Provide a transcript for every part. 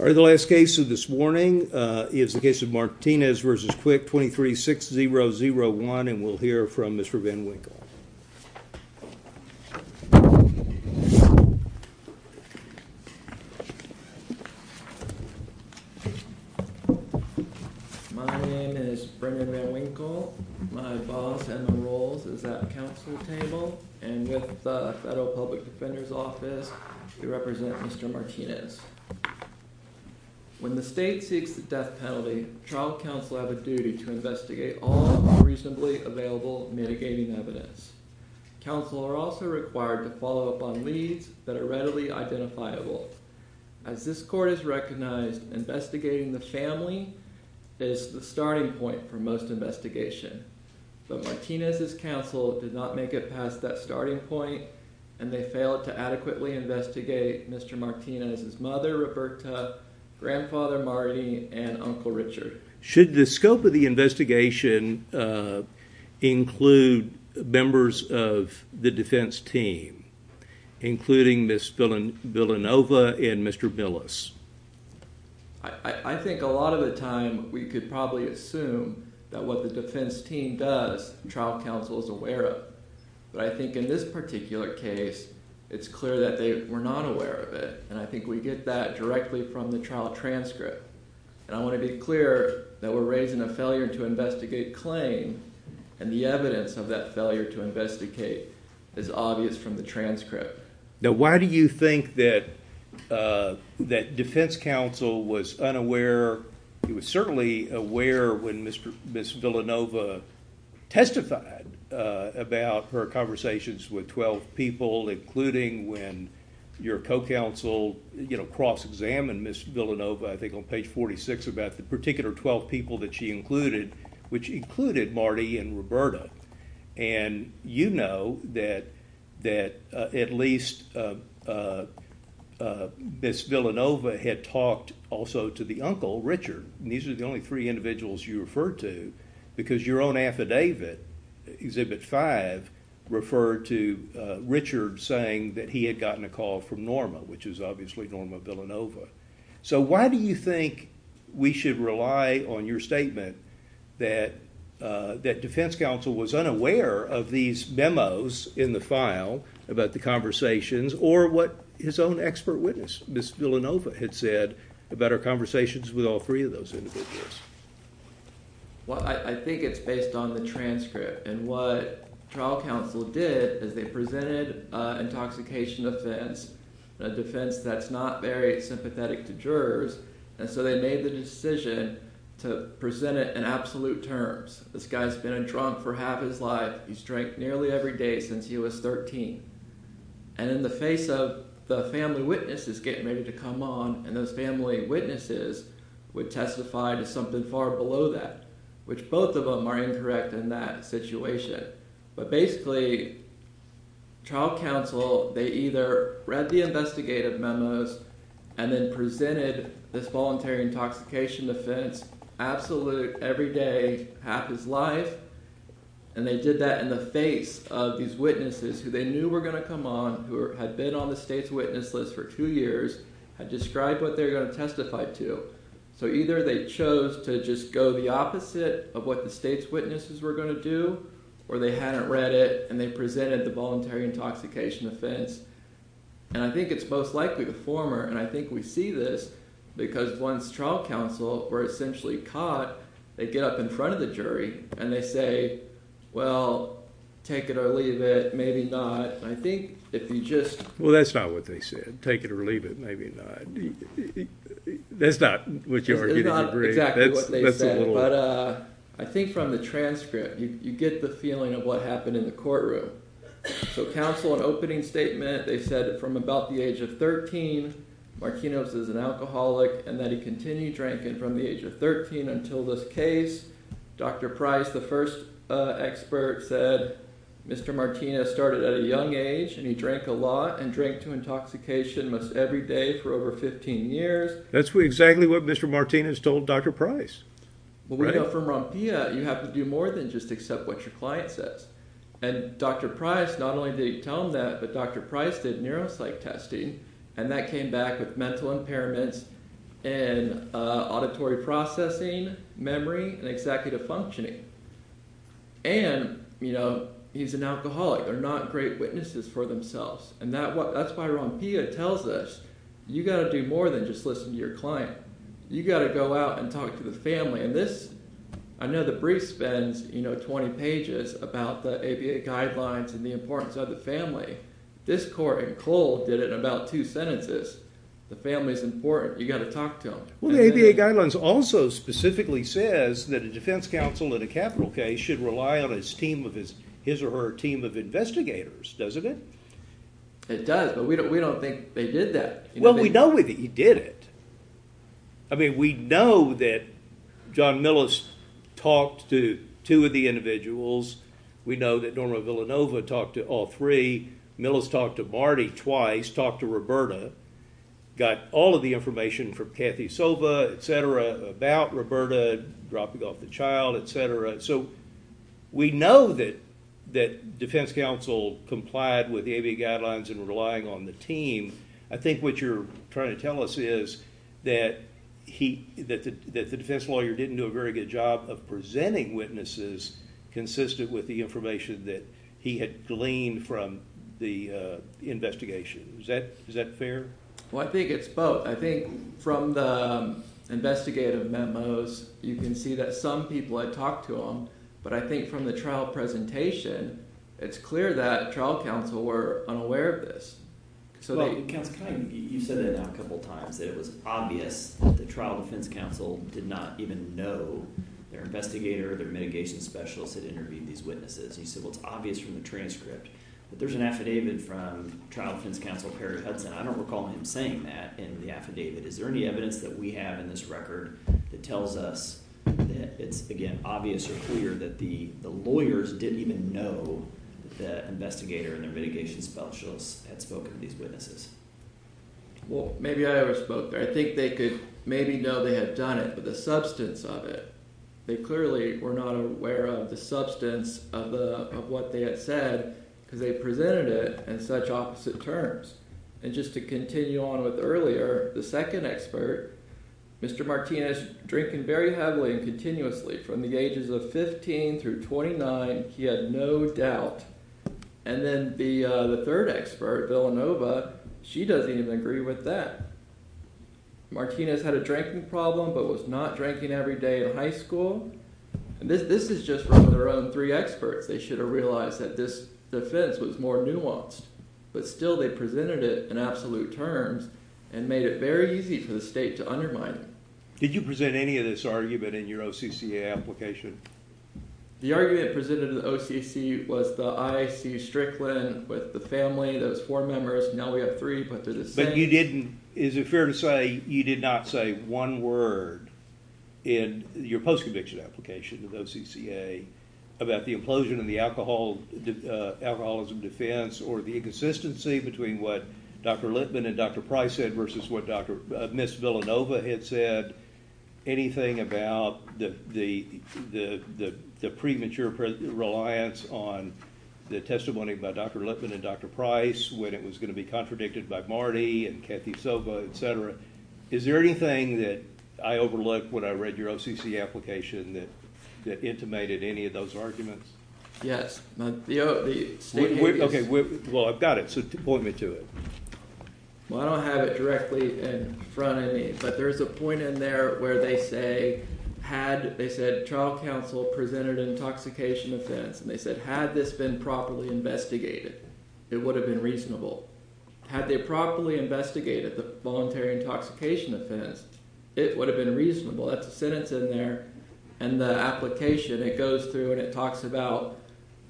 All right, the last case of this morning is the case of Martinez v. Quick 236001 and we'll hear from Mr. Van Winkle. When the state seeks a death penalty, child counsel have a duty to investigate all of the recently available mitigating evidence. Counsel are also required to follow up on leads that are readily identifiable. As this court has recognized, investigating the family is the starting point for most investigation. But Martinez's counsel did not make it past that starting point and they failed to adequately investigate Mr. Martinez's mother, Roberta, grandfather, Marty, and Uncle Richard. Should the scope of the investigation include members of the defense team, including Ms. Villanova and Mr. Villas? I think a lot of the time we could probably assume that what the defense team does, child counsel is aware of. But I think in this particular case, it's clear that they were not aware of it. And I think we get that directly from the trial transcript. And I want to be clear that we're raising a failure to investigate claim and the evidence of that failure to investigate is obvious from the transcript. Now, why do you think that defense counsel was unaware, he was certainly aware when Ms. Villanova testified about her conversations with 12 people, including when your co-counsel cross-examined Ms. Villanova, I think on page 46, about the particular 12 people that she included, which included Marty and Roberta. And you know that at least Ms. Villanova had talked also to the uncle, Richard. And these are the only three individuals you referred to because your own affidavit, Exhibit 5, referred to Richard saying that he had gotten a call from Norma, which is obviously Norma Villanova. So why do you think we should rely on your statement that defense counsel was unaware of these memos in the file about the conversations or what his own expert witness, Ms. Villanova, had said about her conversations with all three of those individuals? Well, I think it's based on the transcript. And what trial counsel did is they presented an intoxication offense, a defense that's not very sympathetic to jurors, and so they made the decision to present it in absolute terms. This guy's been in Trump for half his life. He's drank nearly every day since he was 13. And in the face of the family witnesses getting ready to come on, and those family witnesses would testify to something far below that, which both of them are incorrect in that situation. But basically, trial counsel, they either read the investigative memos and then presented this voluntary intoxication offense, absolute, every day, half his life. And they did that in the face of these witnesses who they knew were going to come on, who had been on the state's witness list for two years, and described what they were going to testify to. So either they chose to just go the opposite of what the state's witnesses were going to do, or they hadn't read it, and they presented the voluntary intoxication offense. And I think it's most likely the former, and I think we see this because once trial counsel were essentially caught, they'd get up in front of the jury, and they'd say, well, take it or leave it, maybe not. I think if you just... Well, that's not what they said, take it or leave it, maybe not. That's not what you were getting at. That's not exactly what they said, but I think from the transcript, you get the feeling of what happened in the courtroom. So counsel, an opening statement, they said that from about the age of 13, Marquinhos was an alcoholic, and that he continued drinking from the age of 13 until this case. Dr. Price, the first expert, said Mr. Martinez started at a young age, and he drank a lot, and drank to intoxication almost every day for over 15 years. That's exactly what Mr. Martinez told Dr. Price. Well, we know from Rampilla, you have to do more than just accept what your client says. And Dr. Price, not only did he tell him that, but Dr. Price did neuropsych testing, and that came back with mental impairments, and auditory processing, memory, and executive functioning. And he's an alcoholic. They're not great witnesses for themselves. And that's why Rampilla tells us, you've got to do more than just listen to your client. You've got to go out and talk to the family. And this... I know the brief spends 20 pages about the ABA guidelines and the importance of the family. This court in Cole did it in about two sentences. The family's important. You've got to talk to them. Well, the ABA guidelines also specifically says that a defense counsel in a capital case should rely on his or her team of investigators, doesn't it? It does, but we don't think they did that. Well, we know that you did it. I mean, we know that John Millis talked to two of the individuals. We know that Norma Villanova talked to all three. Millis talked to Marty twice, talked to Roberta, got all of the information from Kathy Sova, et cetera, about Roberta dropping off the child, et cetera. So we know that defense counsel complied with the ABA guidelines and relying on the team. I think what you're trying to tell us is that the defense lawyer didn't do a very good job of presenting witnesses consistent with the information that he had gleaned from the investigation. Is that fair? Well, I think it's both. I think from the investigative memos you can see that some people had talked to them, but I think from the trial presentation it's clear that trial counsel were unaware of this. Well, you said it a couple times. You said it was obvious that the trial defense counsel did not even know their investigator or their mitigation specialist had interviewed these witnesses. You said it was obvious from the transcript. But there's an affidavit from trial defense counsel Harry Hudson. I don't recall him saying that in the affidavit. Is there any evidence that we have in this record that tells us that it's, again, obvious or clear that the lawyers didn't even know that the investigator or their mitigation specialist had spoken to these witnesses? Well, maybe I overspoke there. I think they could maybe know they had done it, but the substance of it, they clearly were not aware of the substance of what they had said because they presented it in such opposite terms. And just to continue on with earlier, the second expert, Mr. Martinez, drinking very heavily and continuously from the ages of 15 through 29. He has no doubt. And then the third expert, Villanova, she doesn't even agree with that. Martinez had a drinking problem but was not drinking every day in high school. This is just from her own three experts. They should have realized that this defense was more nuanced. But still they presented it in absolute terms and made it very easy for the state to undermine it. Did you present any of this argument in your OCCA application? The argument presented in the OCC was I, Steve Strickland, with the family, those four members, and now we have three. But you didn't, is it fair to say you did not say one word in your post-conviction application with OCCA about the implosion of the alcoholism defense or the inconsistency between what Dr. Litman and Dr. Price said versus what Ms. Villanova had said? Did you present anything about the premature reliance on the testimony by Dr. Litman and Dr. Price when it was going to be contradicted by Marty and Kathy Silva, etc.? Is there anything that I overlooked when I read your OCC application that intimated any of those arguments? Yes. Well, I've got it, so point me to it. Well, I don't have it directly in front of me, but there's a point in there where they say, they said child counsel presented an intoxication offense, and they said had this been properly investigated, it would have been reasonable. Had they properly investigated the voluntary intoxication offense, it would have been reasonable. That's the sentence in there, and the application, it goes through and it talks about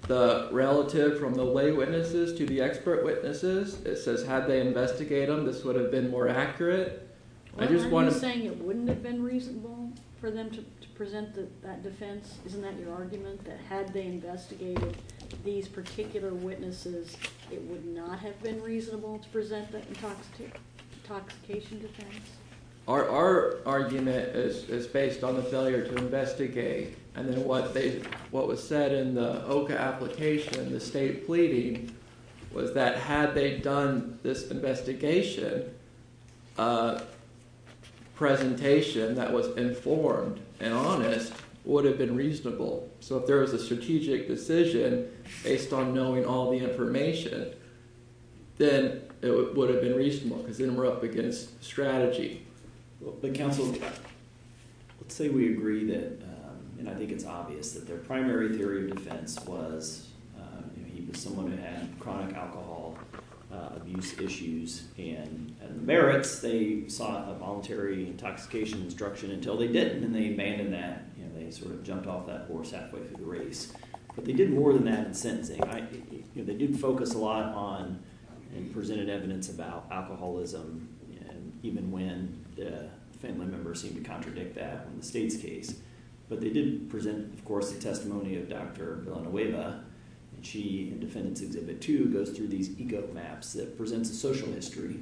the relative from the lay witnesses to the expert witnesses. It says had they investigated them, this would have been more accurate. Are you saying it wouldn't have been reasonable for them to present that defense? Isn't that your argument, that had they investigated these particular witnesses, it would not have been reasonable to present that intoxication defense? Our argument is based on the failure to investigate, and then what was said in the OCA application, the state pleading, was that had they done this investigation, presentation that was informed and honest would have been reasonable. So if there was a strategic decision based on knowing all the information, then it would have been reasonable, because then we're up against strategy. But counsel, let's say we agree that, and I think it's obvious that their primary theory of defense was that he was someone who had chronic alcohol abuse issues. And at Merritt, they sought a voluntary intoxication instruction until they did, and then they abandoned that. They sort of jumped off that horse halfway through the race. But they did more than that in sentencing. They did focus a lot on and presented evidence about alcoholism, even when the family members seemed to contradict that in the state's case. But they did present, of course, the testimony of Dr. Villanueva. She, in defendant exhibit two, goes through these eco maps that present the social history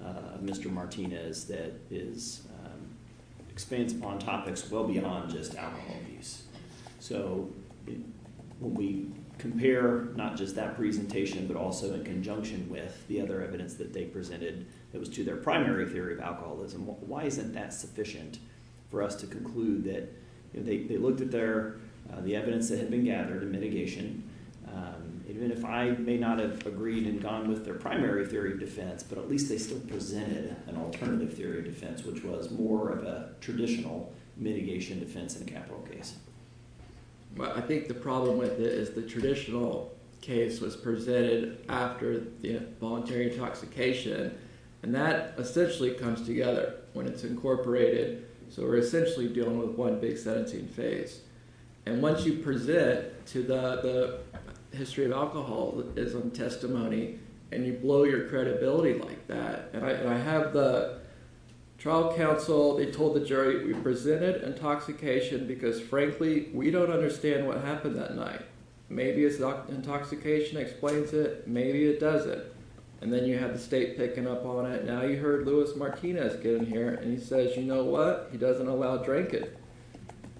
of Mr. Martinez that is based on topics well beyond just alcohol abuse. So when we compare not just that presentation, but also in conjunction with the other evidence that they presented that was to their primary theory of alcoholism, why isn't that sufficient for us to conclude that they looked at their, the evidence that had been gathered in mitigation. Even if I may not have agreed and gone with their primary theory of defense, but at least they still presented an alternative theory of defense, which was more of a traditional mitigation defense in capital case. But I think the problem with it is the traditional case was presented after the involuntary intoxication, and that essentially comes together when it's incorporated. So we're essentially dealing with one big sentencing phase. And once you present to the history of alcoholism testimony, and you blow your credibility like that, and I have the trial counsel, they told the jury, we presented intoxication because, frankly, we don't understand what happened that night. Maybe intoxication explains it, maybe it doesn't. And then you have the state picking up on it. Now you heard Luis Martinez get in here, and he says, you know what? He doesn't allow drinking.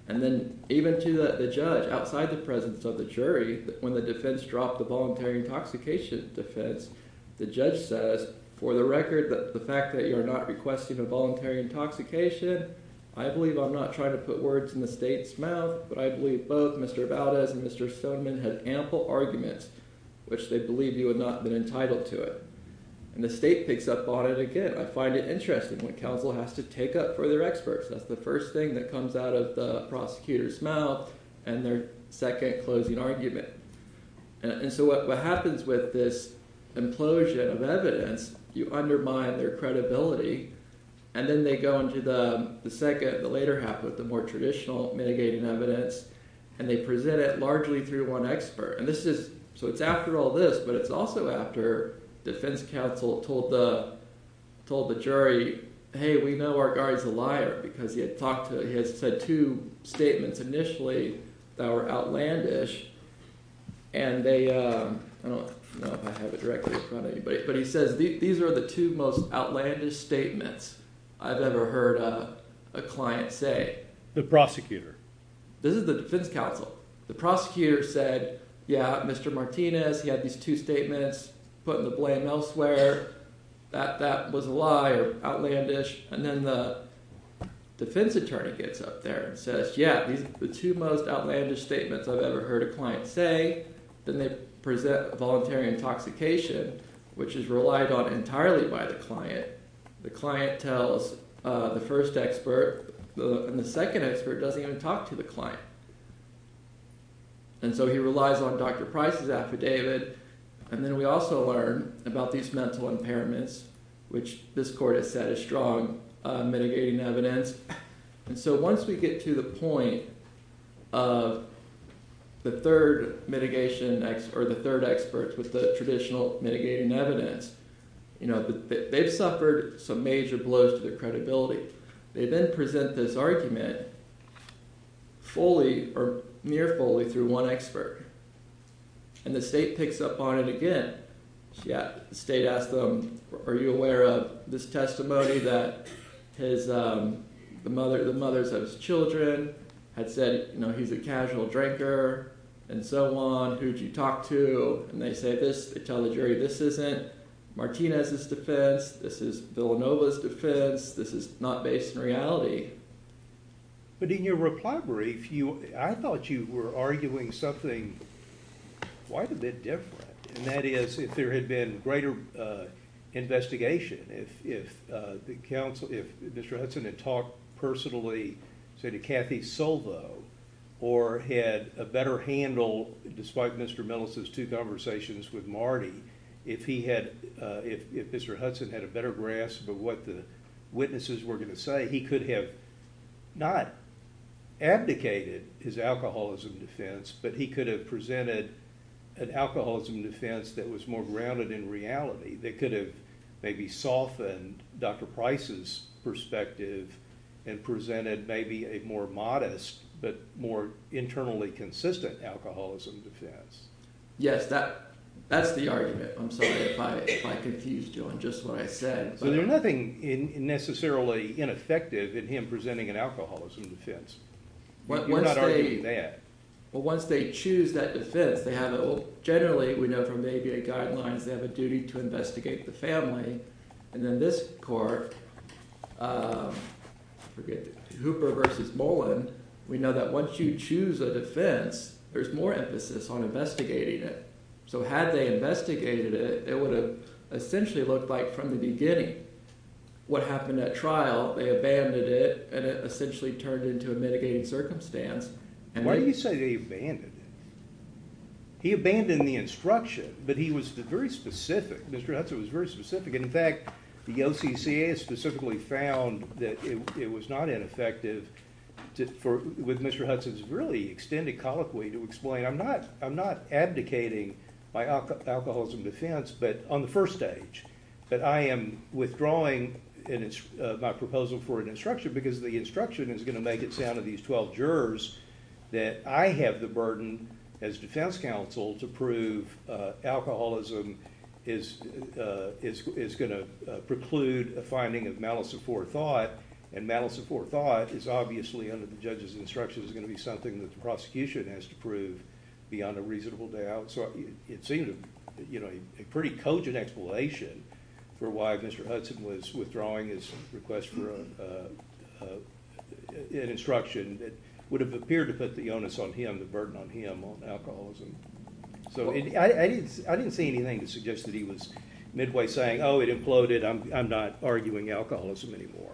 And then even to the judge, outside the presence of the jury, when the defense dropped the voluntary intoxication defense, the judge says, for the record, that's the fact that you're not requesting a voluntary intoxication. I believe I'm not trying to put words in the state's mouth, but I believe both Mr. Valdez and Mr. Subman have ample arguments which they believe you have not been entitled to it. And the state picks up on it again. I find it interesting when counsel has to take up for their experts. That's the first thing that comes out of the prosecutor's mouth and their second closing argument. And so what happens with this implosion of evidence, you undermine their credibility, and then they go into the second, the later half, with the more traditional mitigating evidence, and they present it largely through one expert. So it's after all this, but it's also after defense counsel told the jury, hey, we know our guard's a liar, because he had said two statements initially that were outlandish. And they, I don't know if I have it directly in front of anybody, but he says, these are the two most outlandish statements I've ever heard a client say. The prosecutor. This is the defense counsel. The prosecutor said, yeah, Mr. Martinez, he had these two statements, put the blame elsewhere, that was a lie, it was outlandish. And then the defense attorney gets up there and says, yeah, these are the two most outlandish statements I've ever heard a client say. Then they present voluntary intoxication, which is relied on entirely by the client. The client tells the first expert, and the second expert doesn't even talk to the client. And so he relies on Dr. Price's affidavit. And then we also learn about these mental impairments, which this court has said is strong mitigating evidence. And so once we get to the point of the third mitigation, or the third expert with the traditional mitigating evidence, they've suffered some major blows to credibility. They then present this argument fully or near fully through one expert. And the state picks up on it again. The state asks them, are you aware of this testimony that the mother of his children had said he's a casual drinker and so on, who'd you talk to? And they tell the jury, this isn't Martinez's defense. This is Villanova's defense. This is not based in reality. But in your reply brief, I thought you were arguing something quite a bit different, and that is if there had been greater investigation, if Mr. Hudson had talked personally, say, to Kathy Sobo, or had a better handle, despite Mr. Millis's two conversations with Marty, if Mr. Hudson had a better grasp of what the witnesses were going to say, he could have not abdicated his alcoholism defense, but he could have presented an alcoholism defense that was more grounded in reality, that could have maybe softened Dr. Price's perspective and presented maybe a more modest but more internally consistent alcoholism defense. Yes, that's the argument. I'm sorry if I confused you on just what I said. There's nothing necessarily ineffective in him presenting an alcoholism defense. You're not arguing that. Well, once they choose that defense, they have a, generally, we know from ABA guidelines, they have a duty to investigate the family. And in this court, Hooper v. Mullins, we know that once you choose a defense, there's more emphasis on investigating it. So had they investigated it, it would have essentially looked like from the beginning. What happened at trial, they abandoned it, and it essentially turned into a mitigating circumstance. Why do you say they abandoned it? He abandoned the instruction, but he was very specific. Mr. Hudson was very specific. In fact, the OCCA specifically found that it was not ineffective. With Mr. Hudson's really extended colloquy to explain, I'm not advocating my alcoholism defense on the first stage, but I am withdrawing my proposal for an instruction because the instruction is going to make it sound to these 12 jurors that I have the burden, as defense counsel, to prove alcoholism is going to preclude a finding of malice of forethought, and malice of forethought is obviously, under the judges' instructions, going to be something that the prosecution has to prove beyond a reasonable doubt. So it seemed a pretty cogent explanation for why Mr. Hudson was withdrawing his request for an instruction that would have appeared to put the onus on him, the burden on him, on alcoholism. So I didn't see anything that suggested he was midway saying, oh, it imploded, I'm not arguing alcoholism anymore.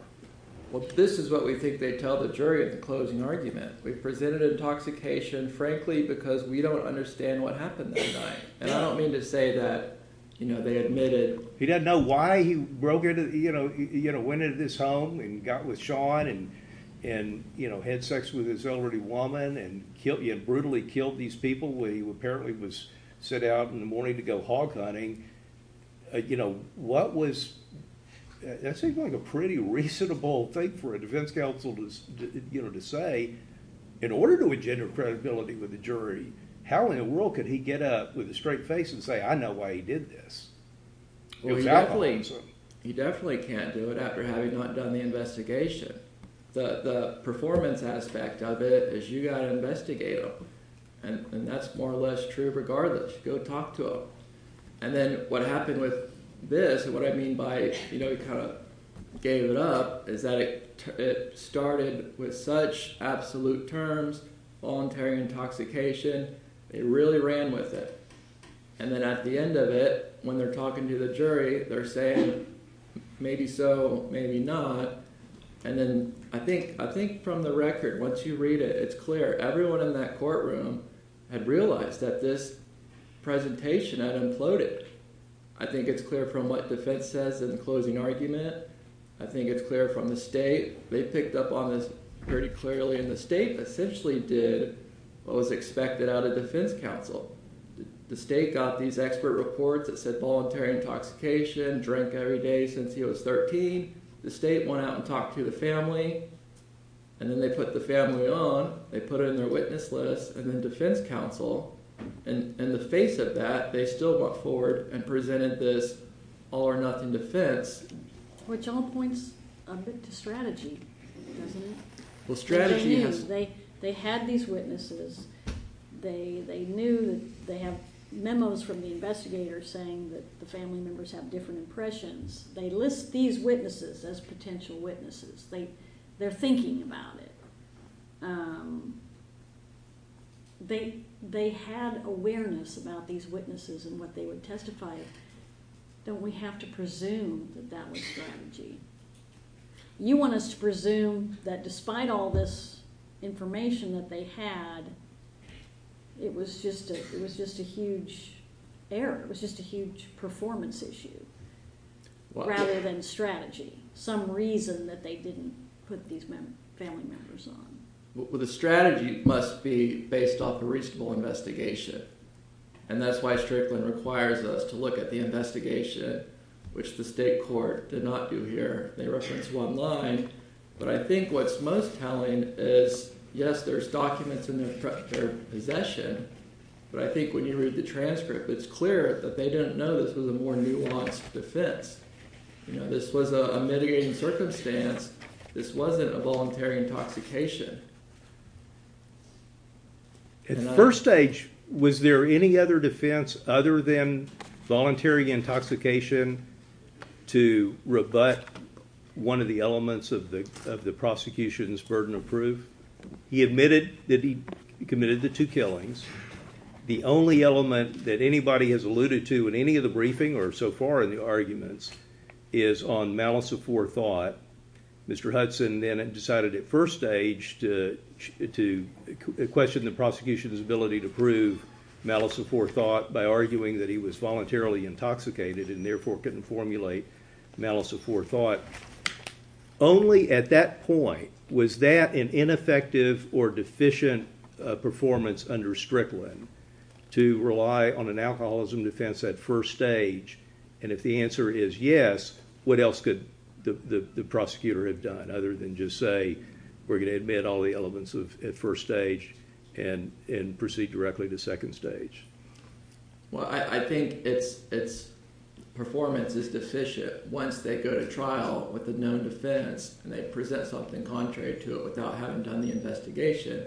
Well, this is what we think they tell the jury at the closing argument. We presented intoxication, frankly, because we don't understand what happened that night. And I don't mean to say that, you know, they admitted... He doesn't know why he broke into, you know, went into this home and got with Sean and, you know, had sex with this elderly woman and brutally killed these people. He apparently was sent out in the morning to go hog hunting. You know, what was... That seemed like a pretty reasonable thing for a defense counsel to say, in order to engender credibility with the jury, how in the world could he get up with a straight face and say, I know why he did this? You definitely can't do it after having not done the investigation. The performance aspect of it was you got to investigate him. And that's more or less true regardless. Go talk to him. And then what happened with this, and what I mean by, you know, kind of gave it up, is that it started with such absolute terms, voluntary intoxication, they really ran with it. And then at the end of it, when they're talking to the jury, they're saying, maybe so, maybe not. And then I think from the record, once you read it, it's clear. Everyone in that courtroom had realized that this presentation had imploded. I think it's clear from what the defense says in the closing argument. I think it's clear from the state. They picked up on this pretty clearly. And the state essentially did what was expected out of defense counsel. The state got these expert reports that said voluntary intoxication, drink every day since he was 13. The state went out and talked to the family. And then they put the family on. They put it on their witness list, and then defense counsel. And in the face of that, they still brought forward and presented this all-or-nothing defense. Which all points a bit to strategy. They had these witnesses. They knew that they have memos from the investigators saying that the family members have different impressions. They list these witnesses as potential witnesses. They're thinking about it. They had awareness about these witnesses and what they would testify. So we have to presume that that was strategy. You want us to presume that despite all this information that they had, it was just a huge error. It was just a huge performance issue rather than strategy. Some reason that they didn't put these family members on. Well, the strategy must be based off a reasonable investigation. And that's why Strickland requires us to look at the investigation, which the state court did not do here. They referenced it online. But I think what's most telling is, yes, there's documents in their possession. But I think when you read the transcript, it's clear that they didn't know this was a more nuanced defense. This was a mitigating circumstance. This wasn't a voluntary intoxication. At first stage, was there any other defense other than voluntary intoxication to rebut one of the elements of the prosecution's burden of proof? He admitted that he committed the two killings. The only element that anybody has alluded to in any of the briefing or so far in the arguments is on malice of forethought. Mr. Hudson then decided at first stage to question the prosecution's ability to prove malice of forethought by arguing that he was voluntarily intoxicated and therefore couldn't formulate malice of forethought. Only at that point was that an ineffective or deficient performance under Strickland to rely on an alcoholism defense at first stage. And if the answer is yes, what else could the prosecutor have done other than just say, we're going to admit all the elements at first stage and proceed directly to second stage? Well, I think its performance is deficient once they go to trial with a known defense and they present something contrary to it without having done the investigation.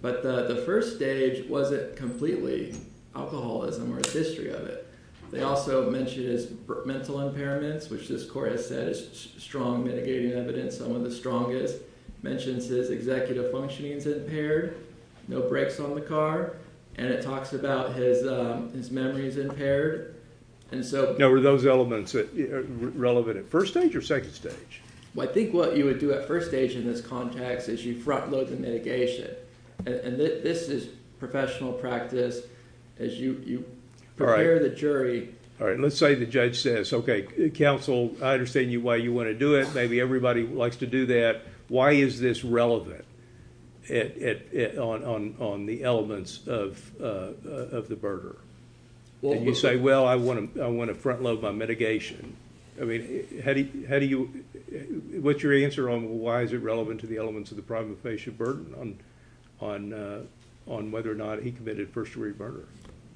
But the first stage wasn't completely alcoholism or a history of it. They also mentioned his mental impairments, which this court has said is strong mitigating evidence, some of the strongest. It mentions that his executive functioning is impaired, no brakes on the car, and it talks about his memory is impaired. Now, were those elements relevant at first stage or second stage? Well, I think what you would do at first stage in this context is you front load the mitigation. And this is professional practice as you prepare the jury. All right. Let's say the judge says, okay, counsel, I understand why you want to do it. Maybe everybody wants to do that. Why is this relevant on the elements of the burger? And you say, well, I want to front load my mitigation. I mean, what's your answer on why is it relevant to the elements of the problem of facial burden on whether or not he committed first degree murder?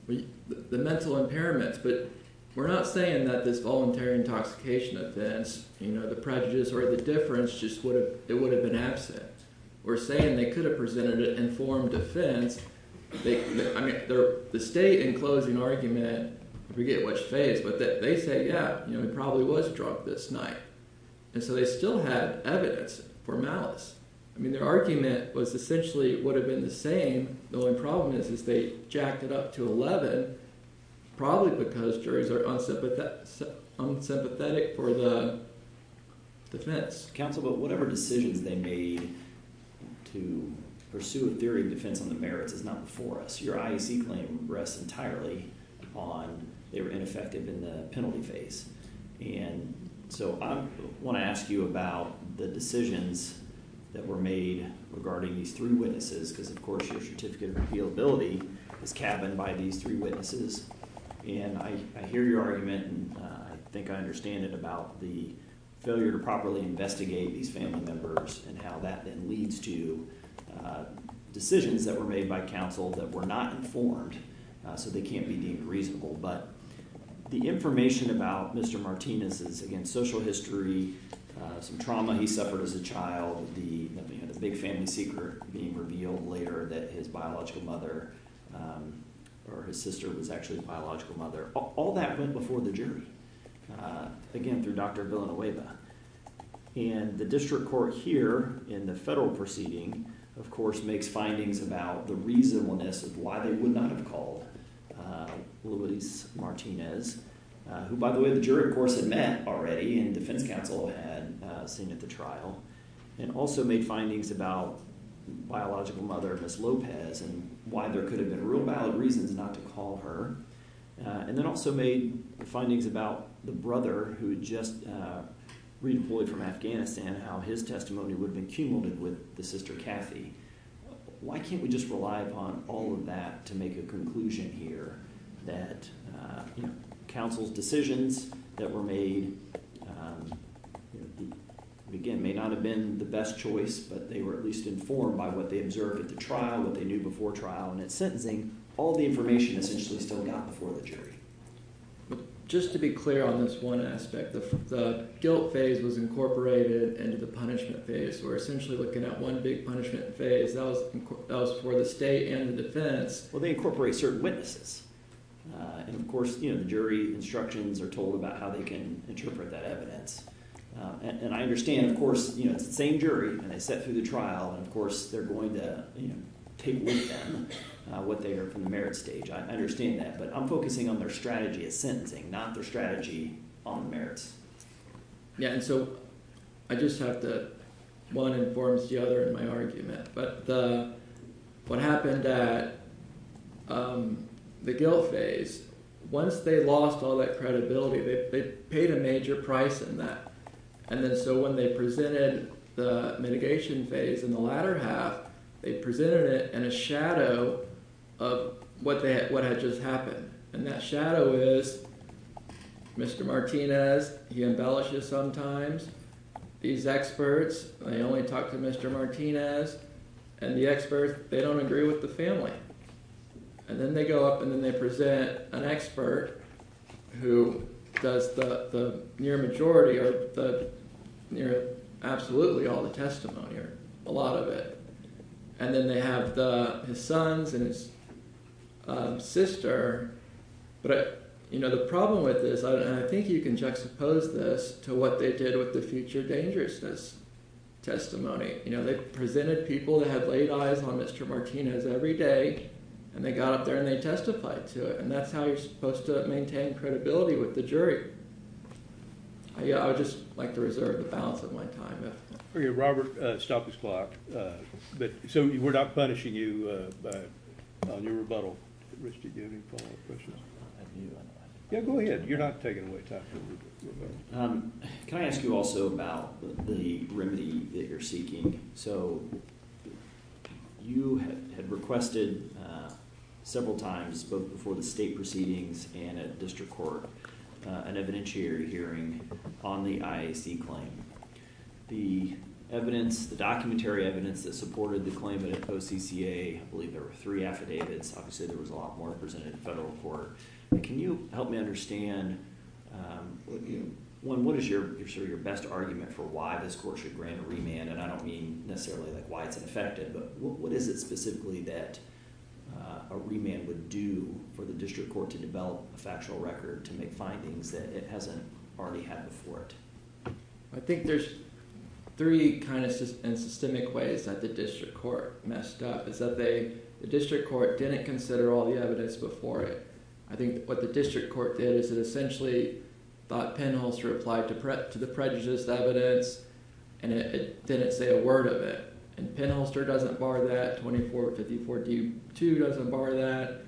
The mental impairments. But we're not saying that the voluntary intoxication events, you know, the prejudice or the difference just would have been absent. We're saying they could have presented an informed defense. I mean, the state enclosed an argument, I forget what state, but they say, yeah, you know, he probably was drunk this night. And so they still have evidence for malice. I mean, their argument was essentially it would have been the same. The only problem is if they jacked it up to 11, probably because juries are unsympathetic for the defense. Counsel, but whatever decision they made to pursue a theory of defense on the merits is not before us. Your IEC claim rests entirely on they were infected in the penalty phase. And so I want to ask you about the decisions that were made regarding these three witnesses because, of course, your certificate of appealability is cabined by these three witnesses. And I hear your argument and I think I understand it about the failure to properly investigate these family members and how that then leads to decisions that were made by counsel that were not informed. So they can't be deemed reasonable. But the information about Mr. Martinez is, again, social history, some trauma he suffered as a child, the big family secret being revealed later that his biological mother or his sister was actually a biological mother. All that went before the jury, again, through Dr. Villanueva. And the district court here in the federal proceeding, of course, makes findings about the reasonableness of why they would not have called Luis Martinez, who, by the way, the jury, of course, had met already and the defendant counsel had seen at the trial, and also made findings about the biological mother, Ms. Lopez, and why there could have been a real valid reason not to call her. And then also made findings about the brother who had just re-employed from Afghanistan, how his testimony would have been cumulative with the sister, Cassie. Why can't we just rely upon all of that to make a conclusion here that counsel's decisions that were made, again, may not have been the best choice, but they were at least informed by what they observed at the trial, what they knew before trial, and at sentencing, all the information essentially still got before the jury. Just to be clear on this one aspect, the guilt phase was incorporated into the punishment phase. We're essentially looking at one big punishment phase, where the state and the defense, well, they incorporate certain witnesses. And, of course, jury instructions are told about how they can interpret that evidence. And I understand, of course, the same jury, and it's set through the trial, and, of course, they're going to take a look at what they heard from the merit stage. I understand that, but I'm focusing on their strategy at sentencing, not their strategy on merits. Yeah, and so I just have to, one informs the other in my argument. But what happened at the guilt phase, once they lost all that credibility, they paid a major price in that. And so when they presented the mitigation phase in the latter half, they presented it in a shadow of what had just happened. And that shadow is Mr. Martinez, he embellishes sometimes. These experts, they only talk to Mr. Martinez. And the experts, they don't agree with the family. And then they go up and then they present an expert who says that the near majority are absolutely all the testimony, or a lot of it. And then they have his sons and his sister. But, you know, the problem with this, and I think you can juxtapose this to what they did with the future dangerousness testimony. You know, they presented people that had laid eyes on Mr. Martinez every day, and they got up there and they testified to it. And that's how you're supposed to maintain credibility with the jury. Yeah, I would just like to reserve the balance of my time. Robert, stop the clock. So we're not punishing you on your rebuttal. Yeah, go ahead. You're not taking away time. Can I ask you also about the remedy that you're seeking? So you have requested several times, both before the state proceedings and at district court, an evidentiary hearing on the IAC claim. The evidence, the documentary evidence that supported the claim at OCCA, I believe there were three affidavits. Obviously there was a lot more presented at federal court. Can you help me understand, one, what is your best argument for why this court should grant a remand? And I don't mean necessarily like why it's ineffective, but what is it specifically that a remand would do for the district court to develop a factual record to make findings that it hasn't already had before it? I think there's three kind of systemic ways that the district court messed up. One is that the district court didn't consider all the evidence before it. I think what the district court did is it essentially thought Penholster applied to the prejudice evidence, and it didn't say a word of it. And Penholster doesn't bar that. 2454D2 doesn't bar that.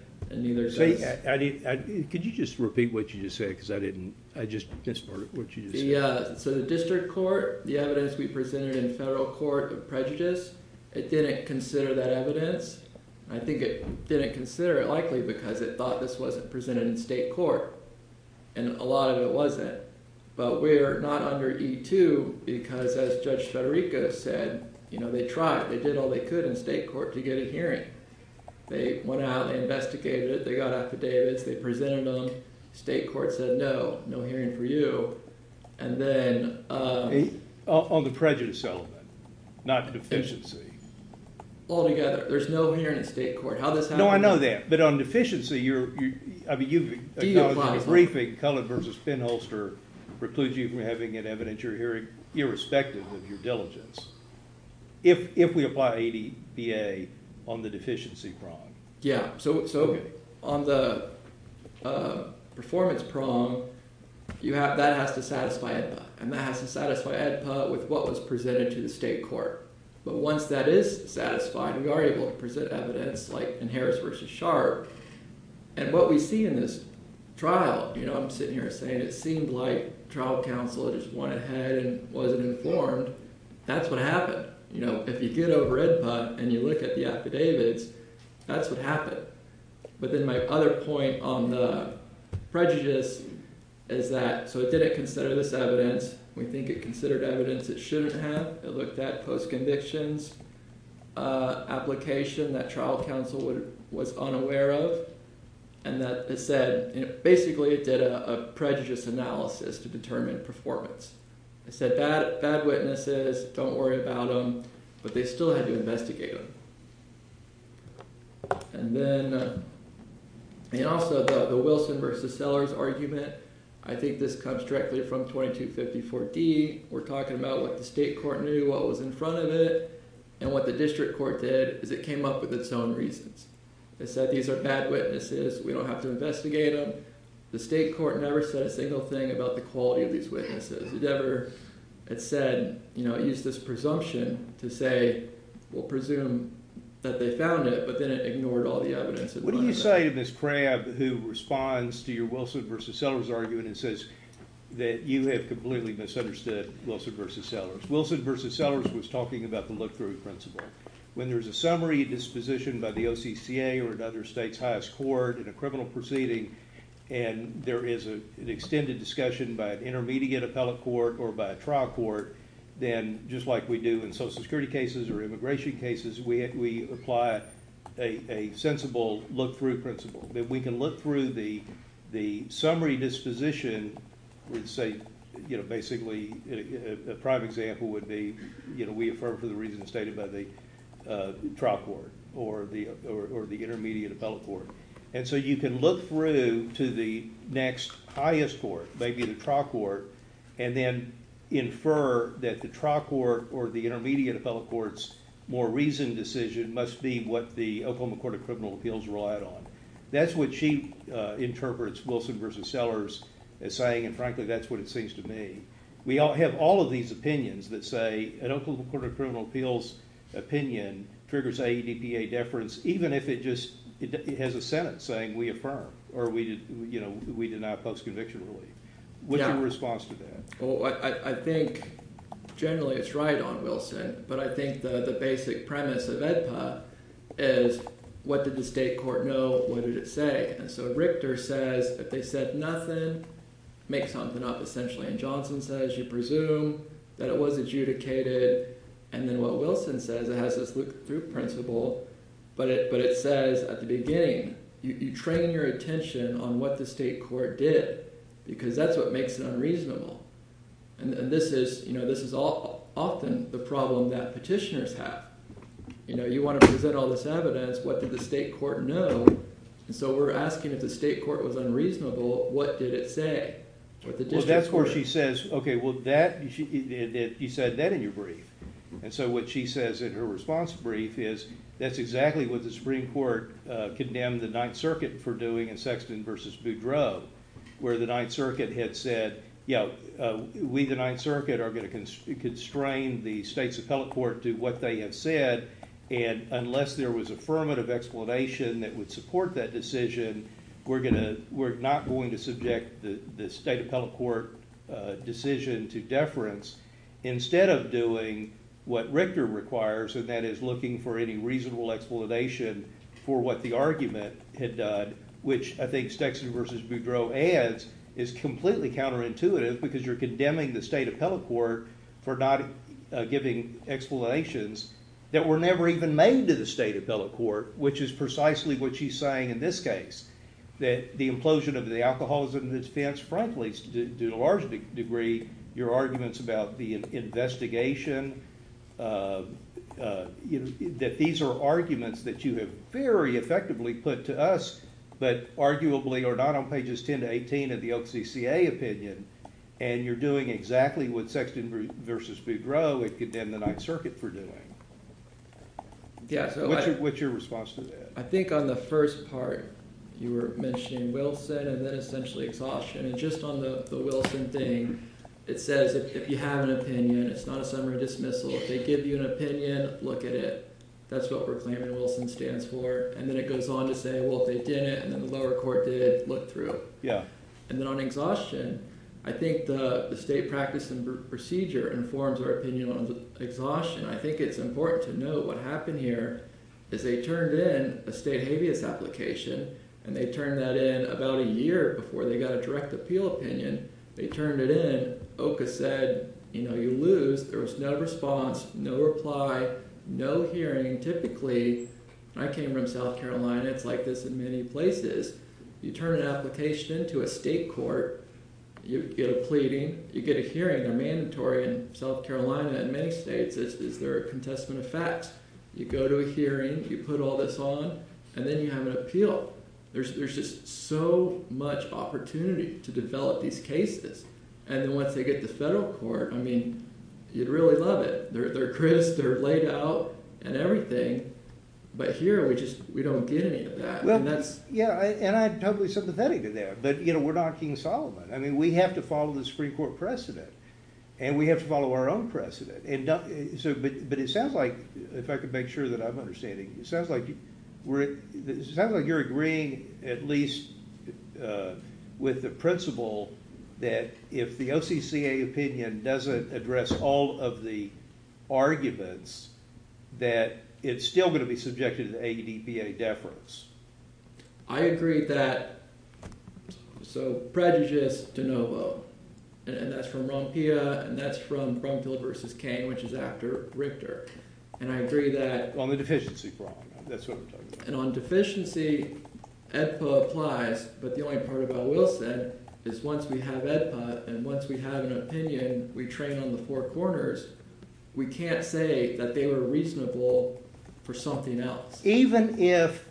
Could you just repeat what you just said? Because I didn't, I just, that's part of what you just said. So the district court, the evidence we presented in federal court of prejudice, it didn't consider that evidence. I think it didn't consider it likely because it thought this wasn't presented in state court. And a lot of it wasn't. But we're not under E2 because, as Judge Federico said, you know, they tried. They did all they could in state court to get a hearing. They went out and investigated it. They got affidavits. They presented them. State court said no, no hearing for you. And then... On the prejudice element, not the deficiency. Altogether, there's no hearing in state court. How does that work? No, I know that. But on deficiency, you're, I mean, you've, in the briefing, Cullen versus Penholster precludes you from having an evidentiary hearing irrespective of your diligence. If we apply ADBA on the deficiency problem. Yeah, so on the performance problem, you have, that has to satisfy ADBA. And that has to satisfy ADBA with what was presented to the state court. But once that is satisfied, we are able to present evidence like in Harris versus Sharp. And what we see in this trial, you know, I'm sitting here saying it seemed like trial counsel just went ahead and wasn't informed. That's what happened. But, you know, if you get over ADBA and you look at the affidavits, that's what happened. But then my other point on the prejudice is that, so it didn't consider this evidence. We think it considered evidence it shouldn't have. It looked at post-conviction application that trial counsel was unaware of. And that it said, you know, basically it did a prejudice analysis to determine performance. It said bad witnesses, don't worry about them. But they still had to investigate them. And then it also has a Wilson versus Sellers argument. I think this comes directly from 2254D. We're talking about what the state court knew, what was in front of it. And what the district court did is it came up with its own reasons. It said these are bad witnesses. We don't have to investigate them. The state court never said a single thing about the quality of these witnesses. It never said, you know, it used this presumption to say, well, presume that they found it. But then it ignored all the evidence. What do you say to this crab who responds to your Wilson versus Sellers argument and says that you have completely misunderstood Wilson versus Sellers? Wilson versus Sellers was talking about the look-through principle. When there's a summary disposition by the OCCA or another state's highest court, an equivalent proceeding, and there is an extended discussion by an intermediate appellate court or by a trial court, then just like we do in Social Security cases or immigration cases, we apply a sensible look-through principle. That we can look through the summary disposition and say, you know, basically, a prime example would be, you know, we affirm for the reasons stated by the trial court or the intermediate appellate court. And so you can look through to the next highest court, maybe the trial court, and then infer that the trial court or the intermediate appellate court's more reasoned decision must be what the Oklahoma Court of Criminal Appeals relied on. That's what she interprets Wilson versus Sellers as saying, and frankly, that's what it seems to me. We all have all of these opinions that say an Oklahoma Court of Criminal Appeals opinion triggers AEDPA deference, even if it just has a sentence saying we affirm or we deny post-conviction relief. What's your response to that? I think generally it's right on Wilson, but I think the basic premise of EDPA is what did the state court know? What did it say? And so Richter says if they said nothing, make something up essentially. And Johnson says you presume that it was adjudicated. And then what Wilson says, it has this look-through principle, but it says at the beginning, you train your attention on what the state court did because that's what makes it unreasonable. And this is often the problem that petitioners have. You know, you want to present all this evidence. What did the state court know? And so we're asking if the state court was unreasonable, what did it say? Well, that's where she says, okay, well, he said that in your brief. And so what she says in her response brief is that's exactly what the Supreme Court condemned the Ninth Circuit for doing in Sexton v. Boudreaux, where the Ninth Circuit had said, you know, we, the Ninth Circuit, are going to constrain the states of telecourt to what they had said, and unless there was affirmative explanation that would support that decision, we're not going to subject the state of telecourt decision to deference instead of doing what Richter requires, and that is looking for any reasonable explanation for what the argument had done, which I think Sexton v. Boudreaux adds is completely counterintuitive because you're condemning the state of telecourt for not giving explanations that were never even made into the state of telecourt, which is precisely what she's saying in this case, that the implosion of the alcoholism defense, frankly, to a large degree, your arguments about the investigation, that these are arguments that you have very effectively put to us, but arguably are not on pages 10 to 18 of the OCCA opinion, and you're doing exactly what Sexton v. Boudreaux had condemned the Ninth Circuit for doing. What's your response to that? I think on the first part, you were mentioning Wilson, and then essentially exhaustion, and just on the Wilson thing, it says if you have an opinion, it's not a summary dismissal, if they give you an opinion, look at it, that's what Proclamatory Wilson stands for, and then it goes on to say, well, if they didn't, and the lower court did, look through it. Yeah, and then on exhaustion, I think the state practice and procedure informs our opinion on exhaustion. I think it's important to note what happened here, that they turned in a state habeas application, and they turned that in about a year before they got a direct appeal opinion. They turned it in, OCCA said, you know, you lose, there was no response, no reply, no hearing. Typically, I came from South Carolina, it's like this in many places. You turn an application in to a state court, you go pleading, you get a hearing, a mandatory in South Carolina, in many states, this is their contestant effect. You go to a hearing, you put all this on, and then you have an appeal. There's just so much opportunity to develop these cases, and once they get to federal court, I mean, you'd really love it. They're crisp, they're laid out, and everything, but here, we don't get any of that. Well, yeah, and I totally submit to that, but, you know, we're not King Solomon. I mean, we have to follow the Supreme Court precedent, and we have to follow our own precedent. But it sounds like, if I can make sure that I'm understanding, it sounds like you're agreeing, at least with the principle that if the OCCA opinion doesn't address all of the arguments, that it's still going to be subjected to the ADBA deference. I agree that, so prejudice de novo, and that's from Ronpilla, and that's from Ronpilla v. King, which is after Richter, and I agree that... On the deficiency, Ronpilla, that's what we're talking about. And on deficiency, EFPA applies, but the only part about Wilson is once we have EFPA, and once we have an opinion, we train on the four corners. We can't say that they were reasonable for something else. Even if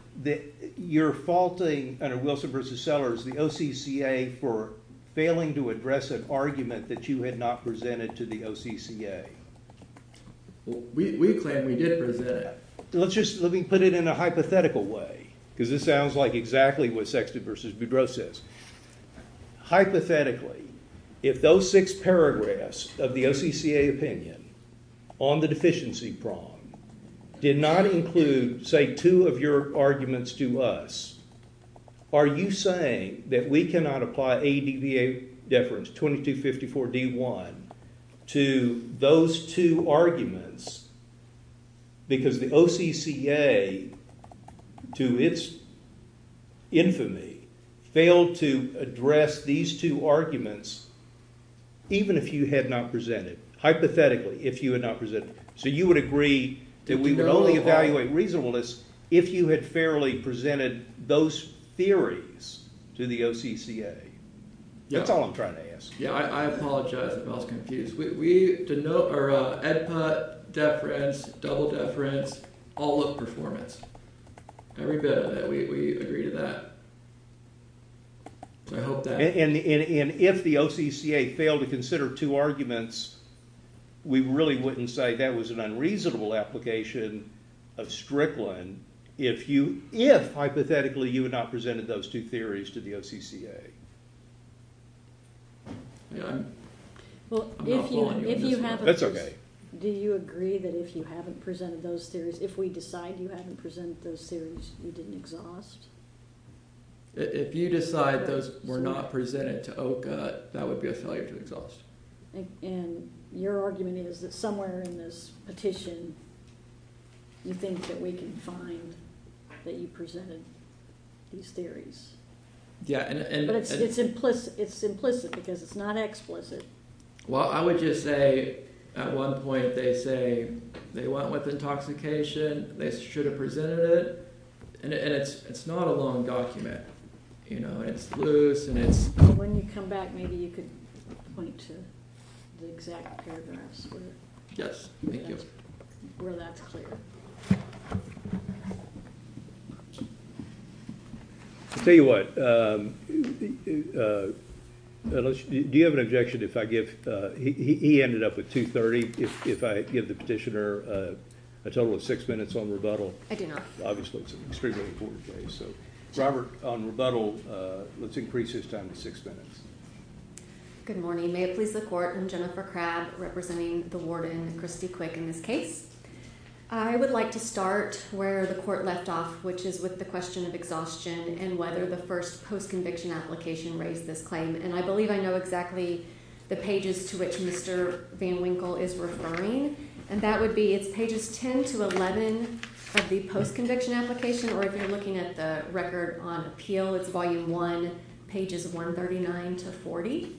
you're faulting, Wilson v. Sellers, the OCCA for failing to address an argument that you had not presented to the OCCA? We claim we did present it. Let me put it in a hypothetical way, because it sounds like exactly what Sexton v. Boudreaux says. Hypothetically, if those six paragraphs of the OCCA opinion on the deficiency problem did not include, say, two of your arguments to us, are you saying that we cannot apply ADBA deference 2254-D1 to those two arguments because the OCCA, to its infamy, failed to address these two arguments, even if you had not presented, hypothetically, if you had not presented? So you would agree that we would only evaluate reasonableness if you had fairly presented those theories to the OCCA? That's all I'm trying to ask. Yeah, I apologize. I was confused. ADBA deference, double deference, all of performance. We agree to that. And if the OCCA failed to consider two arguments, we really wouldn't say that was an unreasonable application of Strickland if, hypothetically, you had not presented those two theories to the OCCA. Yeah. Well, if you haven't... That's okay. Do you agree that if you haven't presented those theories, if we decide you haven't presented those theories, you didn't exhaust? If you decide those were not presented to OCCA, that would be a failure to exhaust. And your argument is that somewhere in this petition you think that we can find that you presented these theories. But it's implicit because it's not explicit. Well, I would just say at one point they say they want less intoxication, they should have presented it, and it's not a long document. You know, it's loose and it's... When you come back, maybe you could point to the exact paragraph. Yes, thank you. We're not clear. I'll tell you what. Do you have an objection if I give... He ended up with 2.30. If I give the petitioner a total of six minutes on rebuttal. I do not. Obviously, it's an extremely important case. Robert, on rebuttal, let's increase his time to six minutes. Good morning. May it please the Court, I'm Jennifer Crabb representing the warden, Christy Quick, in this case. I would like to start where the Court left off, which is with the question of exhaustion and whether the first post-conviction application raised this claim. And I believe I know exactly the pages to which Mr Van Winkle is referring. And that would be pages 10 to 11 of the post-conviction application, or if you're looking at the record on appeal, it's volume 1, pages 139 to 40.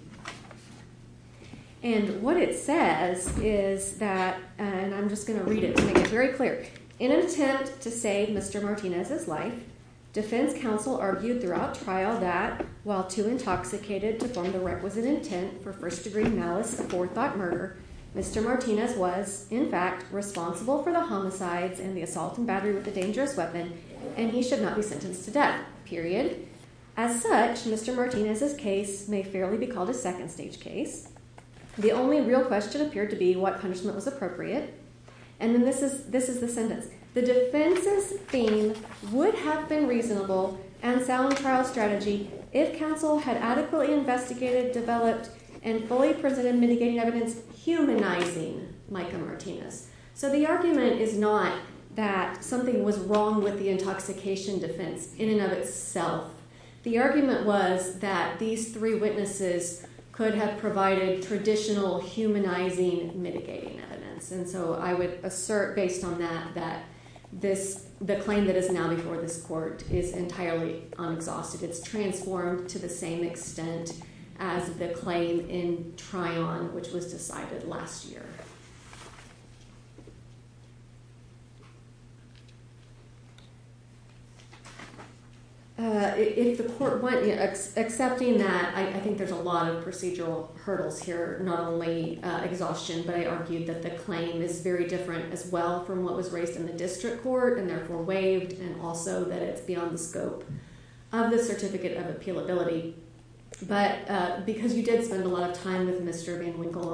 And what it says is that... And I'm just going to read it to make it very clear. In an attempt to save Mr Martinez's life, defense counsel argued throughout trial that, while too intoxicated to form the requisite intent for first-degree malice or thought murder, Mr Martinez was, in fact, responsible for the homicides and the assault and battery of the dangerous weapon, and he should not be sentenced to death, period. As such, Mr Martinez's case may fairly be called a second-stage case. The only real question appeared to be what punishment was appropriate. And this is the sentence. So the argument is not that something was wrong with the intoxication defense in and of itself. The argument was that these three witnesses could have provided traditional humanizing mitigating evidence. And so I would assert, based on that, that the claim that is now before this court is entirely unsought. It is transformed to the same extent as the claim in Tryon, which was decided last year. If the court, one, accepting that, I think there's a lot of procedural hurdles here, not only exhaustion, but I argue that the claim is very different as well from what was raised in the district court, and therefore waived, and also that it's beyond the scope of the certificate of appealability. But because you did spend a lot of time with Mr Van Winkle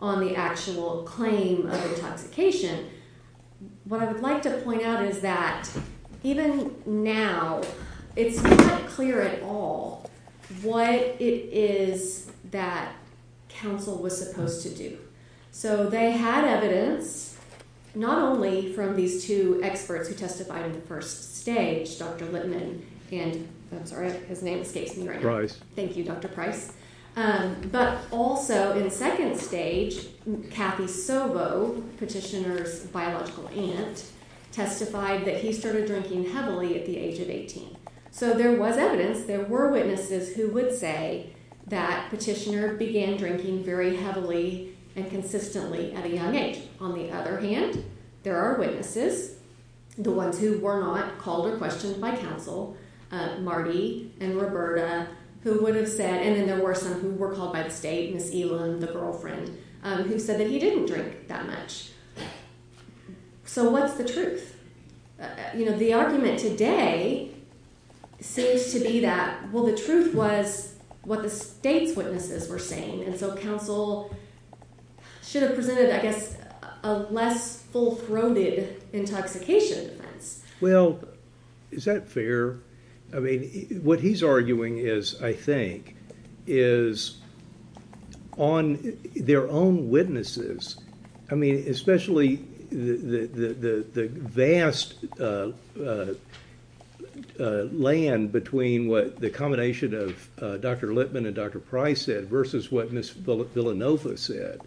on the actual claim of intoxication, what I would like to point out is that, even now, it's not clear at all what it is that counsel was supposed to do. So they had evidence, not only from these two experts who testified in the first stage, Dr. Lippman, and, I'm sorry, his name escapes me right now. Price. Thank you, Dr. Price. But also, in the second stage, Kathy Sobo, Petitioner's biological aunt, testified that he started drinking heavily at the age of 18. So there was evidence, there were witnesses who would say that Petitioner began drinking very heavily and consistently at a young age. On the other hand, there are witnesses, the ones who were not called or questioned by counsel, Marty and Roberta, who would have said, and then there were some who were called by state, Ms. Elan, the girlfriend, who said that he didn't drink that much. So what's the truth? The argument today seems to be that, well, the truth was what the state witnesses were saying, and so counsel should have presented, I guess, a less full-throated intoxication. Well, is that fair? I mean, what he's arguing is, I think, is on their own witnesses. I mean, especially the vast land between what the combination of Dr. Lippman and Dr. Price said versus what Ms. Villanova said,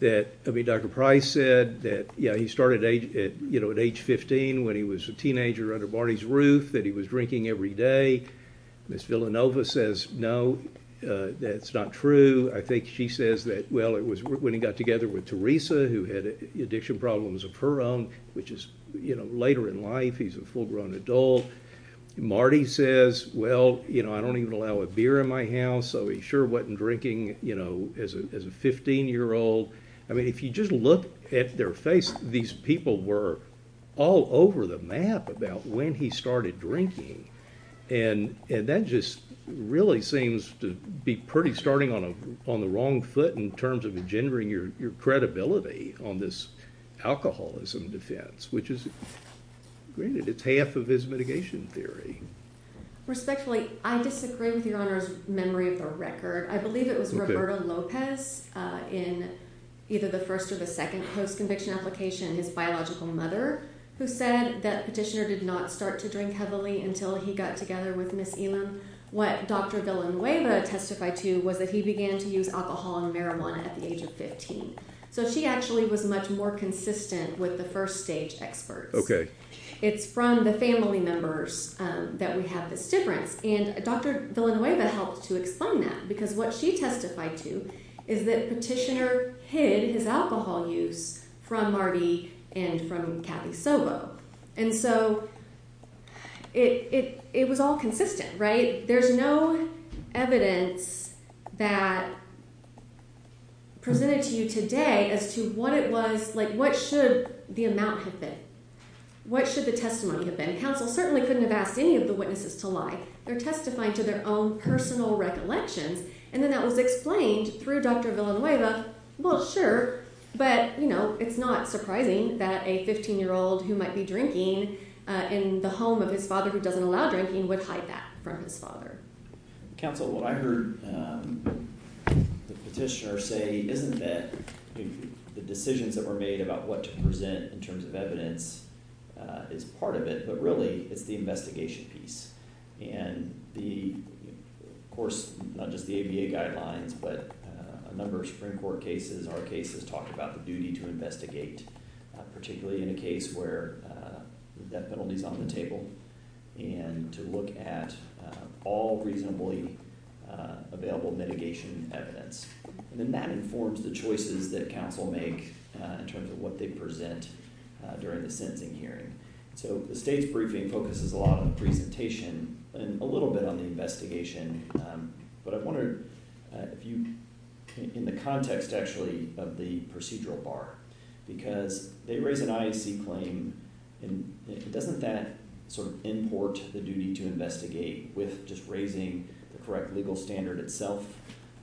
that Dr. Price said that, yeah, he started at age 15 when he was a teenager under Marty's roof, that he was drinking every day. I think Ms. Villanova says, no, that's not true. I think she says that, well, it was when he got together with Teresa, who had addiction problems of her own, which is later in life. He's a full-grown adult. Marty says, well, I don't even allow a beer in my house, so he sure wasn't drinking as a 15-year-old. I mean, if you just look at their face, these people were all over the map about when he started drinking. And that just really seems to be starting on the wrong foot in terms of engendering your credibility on this alcoholism defense, which is half of his mitigation theory. Respectfully, I'm just agreeing with Your Honor's memory of her record. I believe it was Roberto Lopez in either the first or the second post-conviction application, his biological mother, who said that Petitioner did not start to drink heavily until he got together with Ms. Elam. What Dr. Villanueva testified to was that he began to use alcohol and marijuana at the age of 15. So she actually was much more consistent with the first stage experts. It's from the family members that we have that's different. And Dr. Villanueva helped to explain that, because what she testified to is that Petitioner hid his alcohol use from Marty and from Kathy Sobo. And so it was all consistent, right? There's no evidence that presented to you today as to what it was, like what should the amnesty say? What should the testimony have been? Counsel certainly couldn't have asked any of the witnesses to lie. They're testifying to their own personal recollection. And then that was explained through Dr. Villanueva, well, sure. But, you know, it's not surprising that a 15-year-old who might be drinking in the home of his father, who doesn't allow drinking, would hide that from his father. Counsel, what I heard Petitioner say isn't that the decisions that were made about what to present in terms of evidence is part of it, but really it's the investigation piece. And the, of course, not just the ABA guidelines, but a number of Supreme Court cases, our case has talked about the duty to investigate, particularly in a case where that penalty is on the table, and to look at all reasonably available mitigation evidence. And then that informs the choices that counsel make in terms of what they present during the sentencing hearing. So the state's briefing focuses a lot on presentation and a little bit on the investigation. But I wondered if you, in the context actually of the procedural bar, because they raise an IAC claim, doesn't that sort of import the duty to investigate with just raising the correct legal standard itself?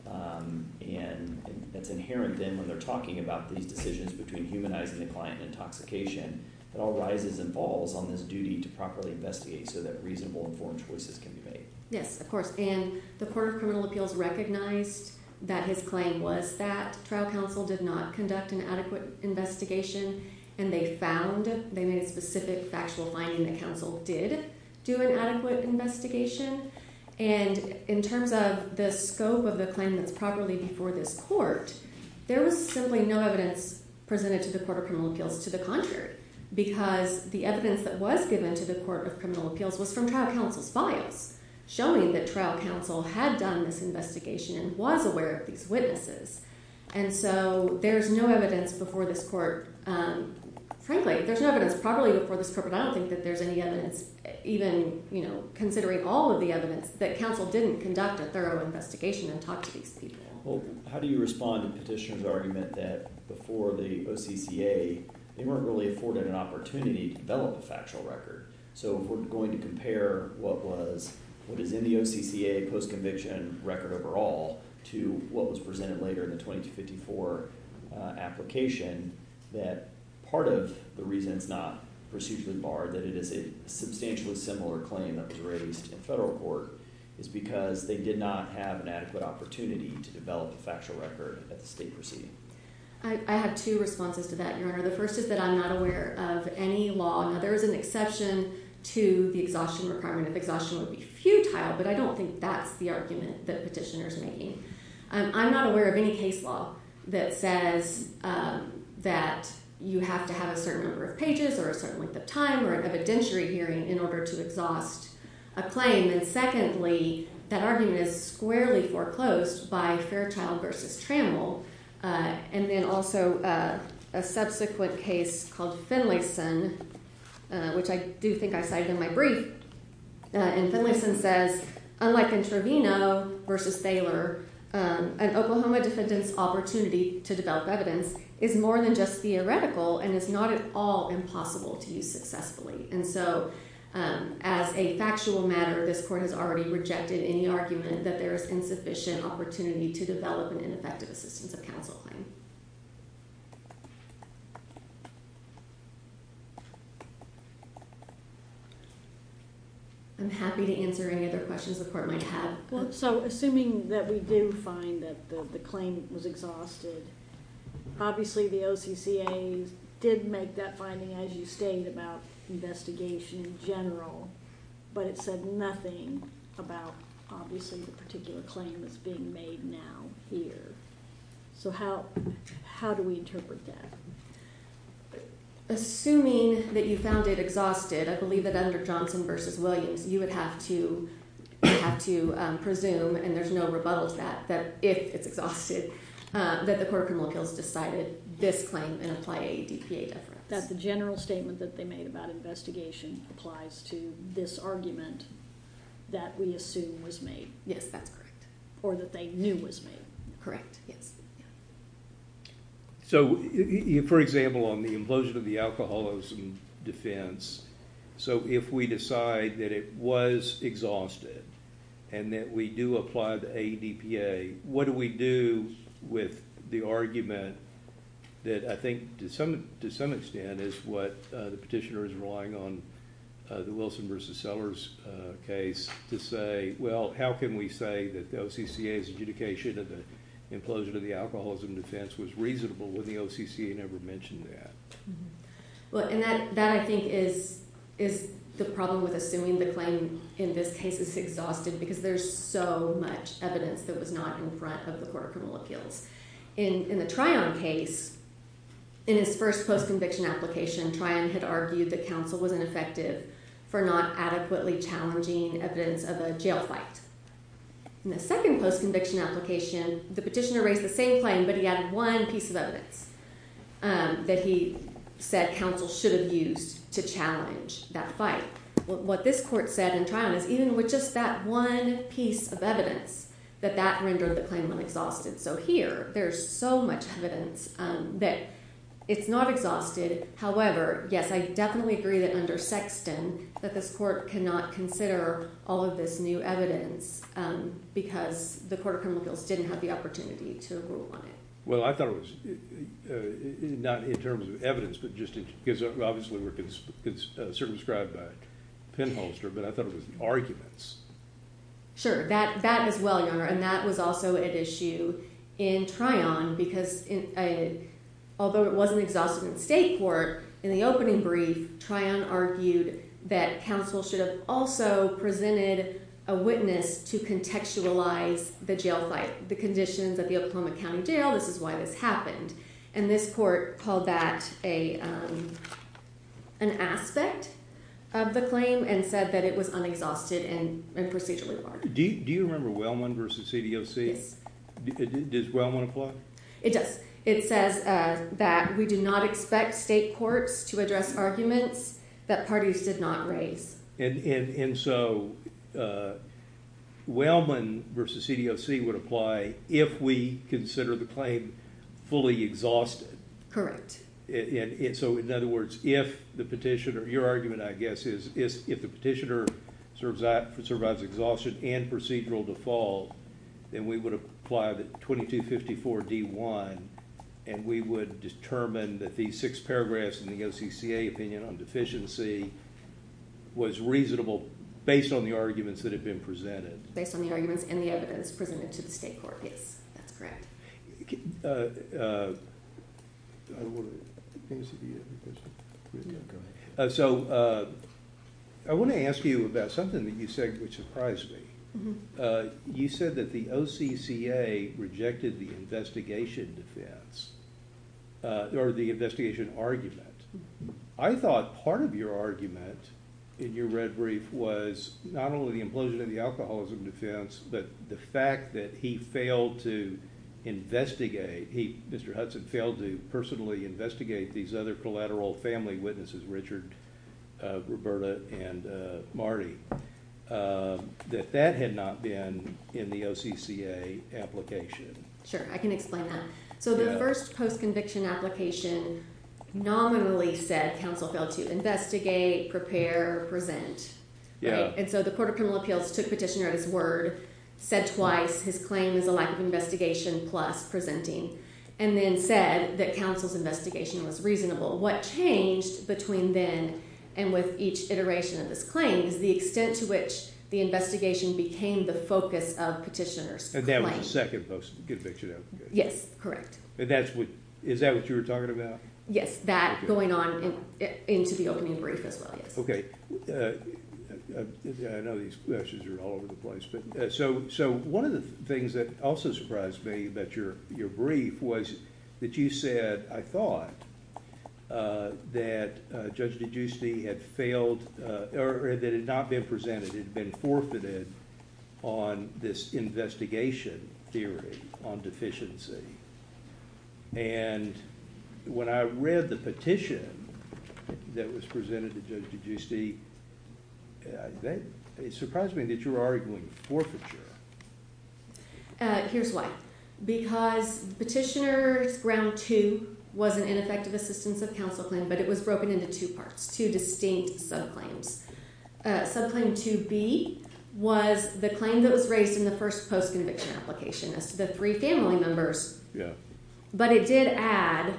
And it's inherent then when they're talking about these decisions between humanizing the client and intoxication, it all rises and falls on this duty to properly investigate so that reasonable informed choices can be made. Yes, of course. And the Court of Criminal Appeals recognized that his claim was that trial counsel did not conduct an adequate investigation, and they found in a specific factual finding that counsel did do an adequate investigation. And in terms of the scope of the claim that's properly before this court, there was simply no evidence presented to the Court of Criminal Appeals to the contrary, because the evidence that was given to the Court of Criminal Appeals was from trial counsel's files, showing that trial counsel had done this investigation and was aware of these witnesses. And so there's no evidence before this court, frankly, there's no evidence properly before this court, but I don't think that there's any evidence even, you know, considering all of the evidence, that counsel didn't conduct a thorough investigation and talk to these people. Well, how do you respond to the petitioner's argument that before the OCTA they weren't really afforded an opportunity to develop a factual record? So if we're going to compare what was in the OCTA post-conviction record overall to what was presented later in the 2254 application, that part of the reason it's not procedurally barred, that it is a substantially similar claim that was raised in a federal court, is because they did not have an adequate opportunity to develop a factual record that they've received. I have two responses to that, Your Honor. The first is that I'm not aware of any law. There is an exception to the exhaustion requirement. Exhaustion would be futile, but I don't think that's the argument that the petitioner is making. I'm not aware of any case law that says that you have to have a certain number of pages or a certain length of time or an evidentiary hearing in order to exhaust a claim. And secondly, that argument is squarely foreclosed by Fairchild v. Trammell. And then also a subsequent case called Finlayson, which I do think I cited in my brief, and Finlayson says, unlike Entrevino v. an Oklahoma defendant's opportunity to develop evidence is more than just theoretical and is not at all impossible to use successfully. And so as a factual matter, this court has already rejected any argument that there is insufficient opportunity to develop an ineffective assistance of counsel claim. I'm happy to answer any other questions the court may have. So assuming that we did find that the claim was exhausted, obviously the OCCA did make that finding, as you state, about investigation in general, but it said nothing about, obviously, the particular claim that's being made now here. So how do we interpret that? Assuming that you found it exhausted, I believe that under Johnson v. Williams, you would have to presume, and there's no rebuttal to that, that if it's exhausted, that the Court of Criminal Appeals decided this claim in a this argument that we assume was made. Or that they knew was made. Correct. So, for example, on the implosion of the alcoholism defense, so if we decide that it was exhausted and that we do apply the ADPA, what do we do with the argument that, I think to some extent, is what the petitioner is relying on, the Wilson v. Sellers case, to say, well, how can we say that the OCCA's adjudication of the implosion of the alcoholism defense was reasonable when the OCCA never mentioned that? Well, and that, I think, is the problem with assuming the claim in this case is exhausted because there's so much evidence that was not in front of the Court of Criminal Appeals. In the Tryon case, in his first post-conviction application, Tryon had argued that counsel wasn't effective for not adequately challenging evidence of a jail fight. In the second post-conviction application, the petitioner raised the same claim, but he added one piece of evidence that he said counsel should have used to challenge that fight. What this court said in Tryon is even with just that one piece of evidence, that that rendered the claim really exhausted. So here, there's so much evidence that it's not exhausted. However, yes, I definitely agree that under Sexton, that this court cannot consider all of this new evidence because the Court of Criminal Appeals didn't have the opportunity to rule on it. Well, I thought it was, not in terms of evidence, but just because, obviously, we're circumscribed by a pinholster, but I thought it was arguments. Sure, that as well, Your Honor, and that was also an issue in Tryon because although it wasn't exhausted in the state court, in the opening brief, Tryon argued that counsel should have also presented a witness to contextualize the jail fight, the conditions of the Oklahoma County Jail, this is why this happened. And this court called that an aspect of the claim and said that it was unexhausted and procedurally hard. Do you remember Wellman v. CDOC? Does Wellman apply? It does. It says that we do not expect state courts to address arguments that parties did not raise. And so Wellman v. CDOC would apply if we consider the claim fully exhausted? Correct. And so, in other words, if the petitioner, your argument, I guess, is if the petitioner survives exhaustion and procedural default, then we would apply the 2254-D1 and we would determine that these six paragraphs in the OCCA opinion on deficiency was reasonable based on the arguments that had been presented. Based on the arguments in the evidence presented to the state court. That's correct. So, I want to ask you about something that you said that surprised me. You said that the OCCA rejected the investigation defense or the investigation argument. I thought part of your argument in your red brief was not only the implosion of the alcoholism defense, but the fact that he failed to investigate, Mr. Hudson failed to personally investigate these other collateral family witnesses, Richard, Roberta, and Marty, that that had not been in the OCCA application. Sure, I can explain that. So, the first post-conviction application nominally said counsel failed to investigate, prepare, or prevent. And so the Court of Criminal Appeals took Petitioner as word, said twice his claim was a lack of investigation plus preventing, and then said that counsel's investigation was reasonable. What changed between then and with each iteration of this claim is the extent to which the investigation became the focus of Petitioner's claim. And that was the second post-conviction application. Yes, correct. Is that what you were talking about? Yes, that going on into the opening brief as well. Okay. I know these questions are all over the place. So, one of the things that also surprised me about your brief was that you said, I thought that Judge DeGiustine had failed, or that it had not been presented, it had been forfeited, on this investigation theory on deficiency. And when I read the petition that was presented to Judge DeGiustine, it surprised me that you were arguing forfeiture. Here's why. Because Petitioner's Ground 2 was an ineffective assistance of counsel claim, but it was broken into two parts, two distinct subclaims. Subclaim 2B was the claim that was raised in the first post-conviction application, the three family members. Yeah. But it did add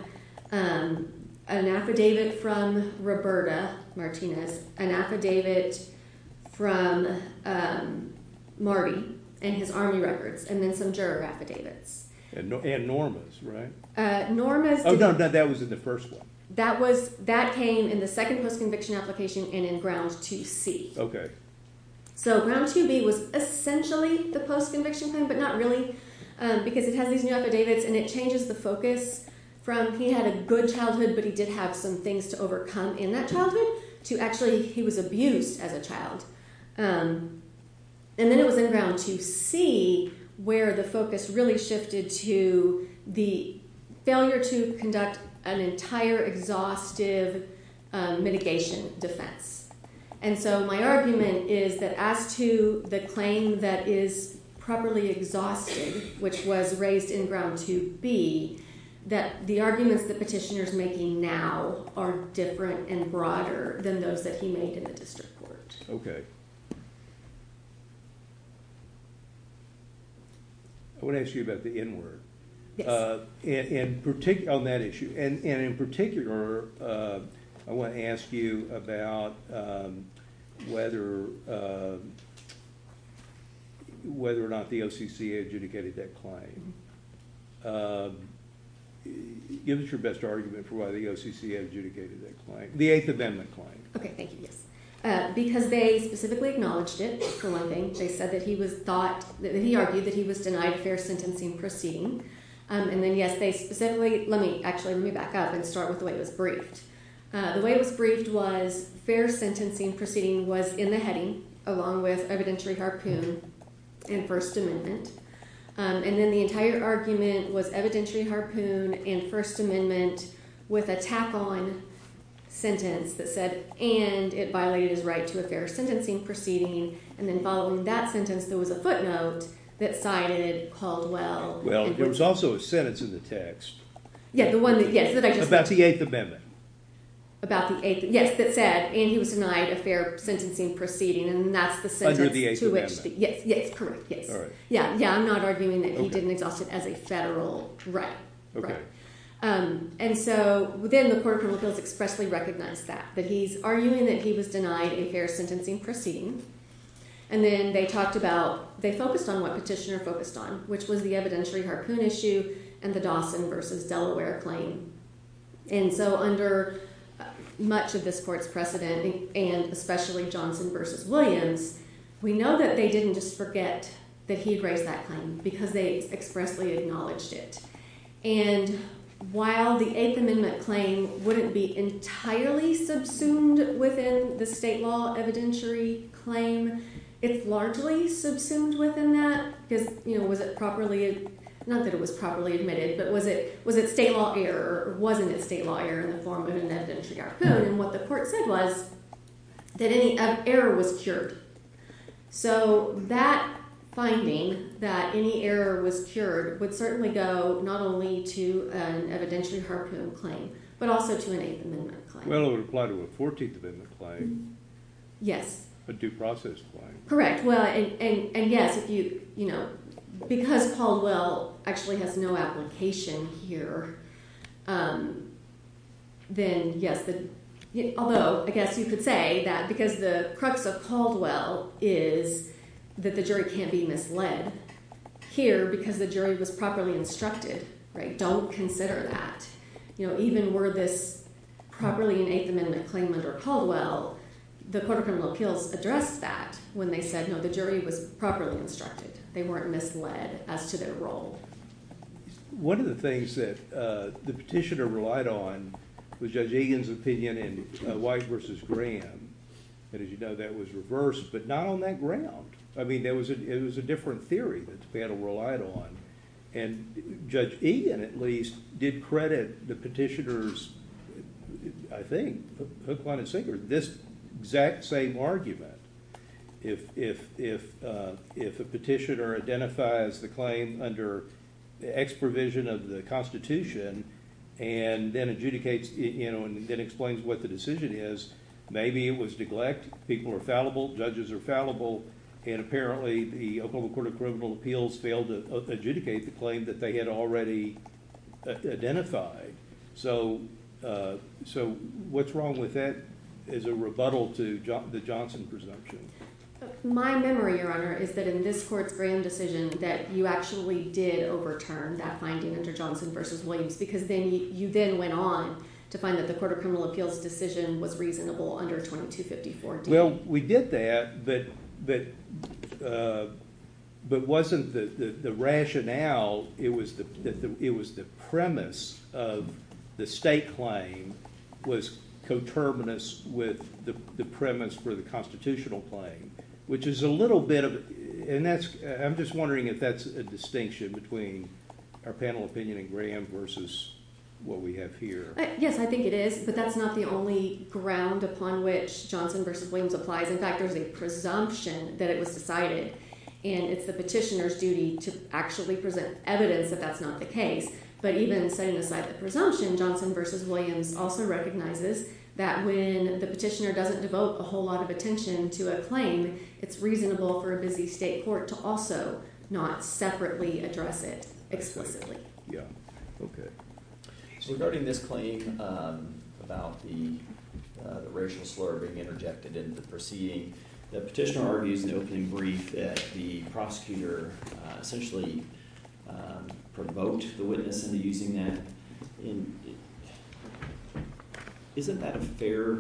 an affidavit from Roberta Martinez, an affidavit from Marty and his army records, and then some juror affidavits. And Norma's, right? Norma's... Oh, no, that was in the first one. That came in the second post-conviction application and in Ground 2C. Okay. So, Ground 2B was essentially the post-conviction claim, but not really, because it has these affidavits and it changes the focus from, he had a good childhood, but he did have some things to overcome in that childhood, to actually, he was abused as a child. And then it was in Ground 2C where the focus really shifted to the failure to conduct an entire exhaustive mitigation defense. And so, my argument is that, as to the claim that is properly exhausted, which was raised in Ground 2B, that the arguments the petitioner's making now are different and broader than those that he made in the district courts. Okay. I want to ask you about the N-word. Yes. On that issue. And in particular, I want to ask you about whether or not the OCC adjudicated that claim. Give us your best argument for why the OCC adjudicated that claim. The Eighth Amendment claim. Okay, thank you. Because they specifically acknowledged it, for one thing. They said that he was thought, that he argued that he was denied fair sentencing proceedings. And then, yes, they specifically, let me actually move back up and start with the way it was briefed. The way it was briefed was, fair sentencing proceeding was in the heading, along with evidentiary harpoon in First Amendment. And then, the entire argument was evidentiary harpoon in First Amendment with a tack-on sentence that said, and it violated the right to a fair sentencing proceeding. And then, following that sentence, there was a footnote that cited Caldwell. Well, there was also a sentence in the text. Yes, the one that, yes. About the Eighth Amendment. About the Eighth Amendment. Yes, it said, and he was denied a fair sentencing proceeding, and that's the sentence. Under the Eighth Amendment. Yes, yes, correct, yes. All right. Yeah, yeah, I'm not arguing that he didn't adopt it as a federal right. Okay. And so, then the court expressly recognized that. That he's arguing that he was denied a fair sentencing proceeding. And then, they talked about, they focused on what Petitioner focused on, which was the evidentiary harpoon issue and the Dawson versus Delaware claim. And so, under much of this court's precedent, and especially Johnson versus Williams, we know that they didn't just forget that he raised that claim, because they expressly acknowledged it. And while the Eighth Amendment claim wouldn't be entirely subsumed within the state law evidentiary claim, it's largely subsumed within that, because, you know, was it properly, not that it was properly admitted, but was it state law error, or wasn't it state law error in the form of an evidentiary error. So, then what the court said was that any error was cured. So, that finding, that any error was cured, would certainly go, not only to an evidentiary harpoon claim, but also to an Eighth Amendment claim. Well, it would apply to a 14th Amendment claim. Yes. A due process claim. Correct. Well, and yes, if you, you know, because Caldwell actually has no application here, then yes, although I guess you could say that because the crux of Caldwell is that the jury can't be misled here because the jury was properly instructed. Right? Don't consider that. You know, even were this properly an Eighth Amendment claim under Caldwell, the Court of Criminal Appeals addressed that when they said, no, the jury was properly instructed. They weren't misled as to their role. One of the things that the petitioner relied on was Judge Egan's opinion in White v. Graham, and as you know, that was reversed, but not on that ground. I mean, it was a different theory that the panel relied on, and Judge Egan, at least, did credit the petitioner's, I think, hook, line, and sinker, this exact same argument. If a petitioner identifies the claim under the ex-provision of the Constitution and then adjudicates, you know, and then explains what the decision is, maybe it was neglect, people are fallible, judges are fallible, and apparently the Oklahoma Court of Criminal Appeals failed to adjudicate the claim that they had already identified. So what's wrong with that as a rebuttal to the Johnson presumption? My memory, Your Honor, is that in this court's Graham decision that you actually did overturn that finding under Johnson v. Williams because you then went on to find that the Court of Criminal Appeals decision was reasonable under 2254. Well, we did that, but wasn't the rationale, it was the premise of the state claim was coterminous with the premise for the constitutional claim, which is a little bit of, and that's, I'm just wondering if that's a distinction between our panel opinion in Graham versus what we have here. Yes, I think it is, but that's not the only ground upon which Johnson v. Williams applies. In fact, there's a presumption that it was decided, and it's the petitioner's duty to actually present evidence that that's not the case. But even saying it's not a presumption, Johnson v. Williams also recognizes that when the petitioner doesn't devote a whole lot of attention to a claim, it's reasonable for a busy state court to also not separately address it exclusively. Yeah, okay. So regarding this claim about the racial slur being interjected in the proceeding, the petitioner argues in the opening brief that the prosecutor essentially provoked the witness into using that. Isn't that a fair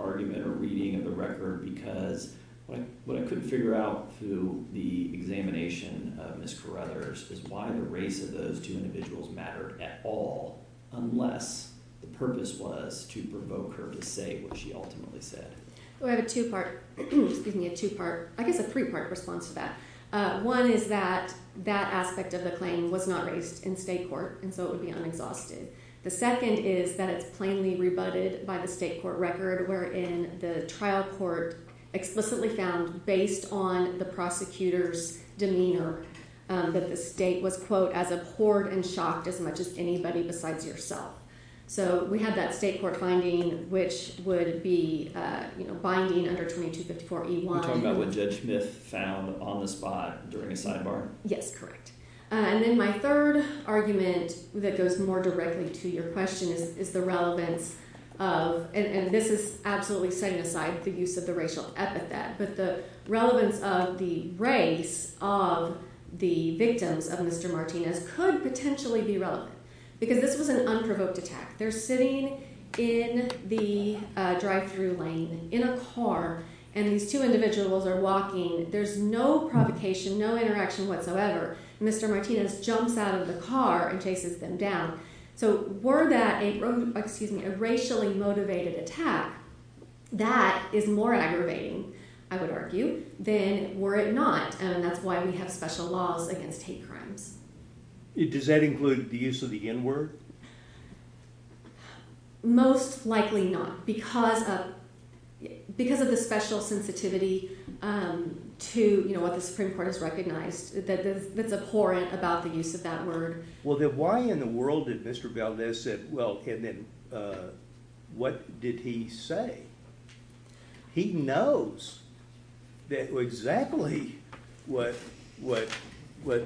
argument or reading of the record? Because what I couldn't figure out through the examination of Ms. Carruthers is why the race of those two individuals mattered at all, unless the purpose was to provoke her to say what she ultimately said. Well, I have a two-part, excuse me, a two-part, I think a three-part response to that. One is that that aspect of the claim was not raised in state court, and so it would be un-exhausted. The second is that it's plainly rebutted by the state court record, wherein the trial court explicitly found based on the prosecutor's demeanor that the state was, quote, as a cord and shock as much as anybody besides yourself. So we have that state court finding which would be binding under 2254E1. You're talking about what Judge Smith found on the spot during a sidebar? Yes, correct. And then my third argument that goes more directly to your question is the relevance of, and this is absolutely setting aside the use of the racial epithet, but the relevance of the race of the victims of Mr. Martinez could potentially be relevant, because this was an unprovoked attack. They're sitting in the drive-thru lane in a car, and these two individuals are walking. There's no provocation, no interaction whatsoever. Mr. Martinez jumps out of the car and takes them down. So were that a racially motivated attack, that is more aggravating, I would argue, than were it not, and that's why we have special laws against hate crimes. Does that include the use of the N-word? Most likely not, because of the special sensitivity to what the Supreme Court has recognized that's abhorrent about the use of that word. Well, then why in the world did Mr. Valdez say, well, what did he say? He knows exactly what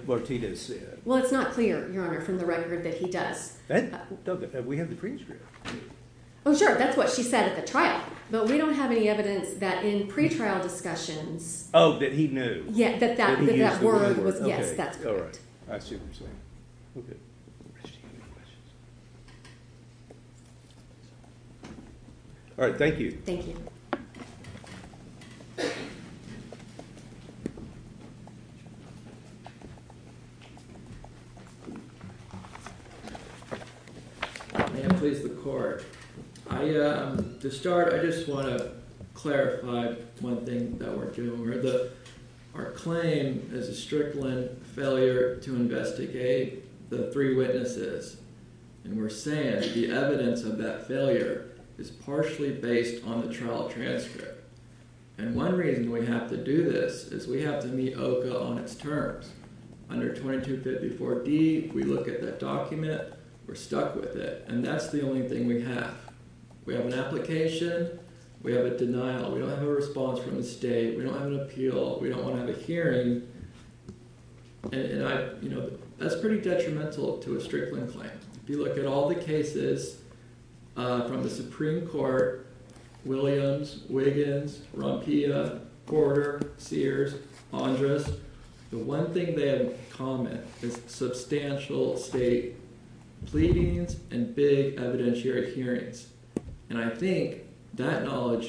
Martinez said. Well, it's not clear, Your Honor, from the record that he does. We have the pre-trial. Well, sure, that's what she said at the trial. But we don't have any evidence that in pre-trial discussion... Oh, that he knew. Yes, that that word was, yes, that. All right. All right, thank you. Thank you. To start, I just want to clarify one thing that we're doing. Our claim is a stripling failure to investigate the three witnesses. And we're saying the evidence of that failure is partially based on the trial transcript. And one reason we have to do this is we have to meet OVIL on its terms. Under 2254D, we look at that document. We're stuck with it. And that's the only thing we have. We have an application. We have a denial. We don't have a response from the state. We don't have an appeal. We don't have a hearing. And, you know, that's pretty detrimental to a stripling claim. If you look at all the cases from the Supreme Court, Williams, Wiggins, Ronquilla, Porter, Sears, Andres, the one thing they have in common is substantial state pleadings and big evidentiary hearings. And I think that knowledge,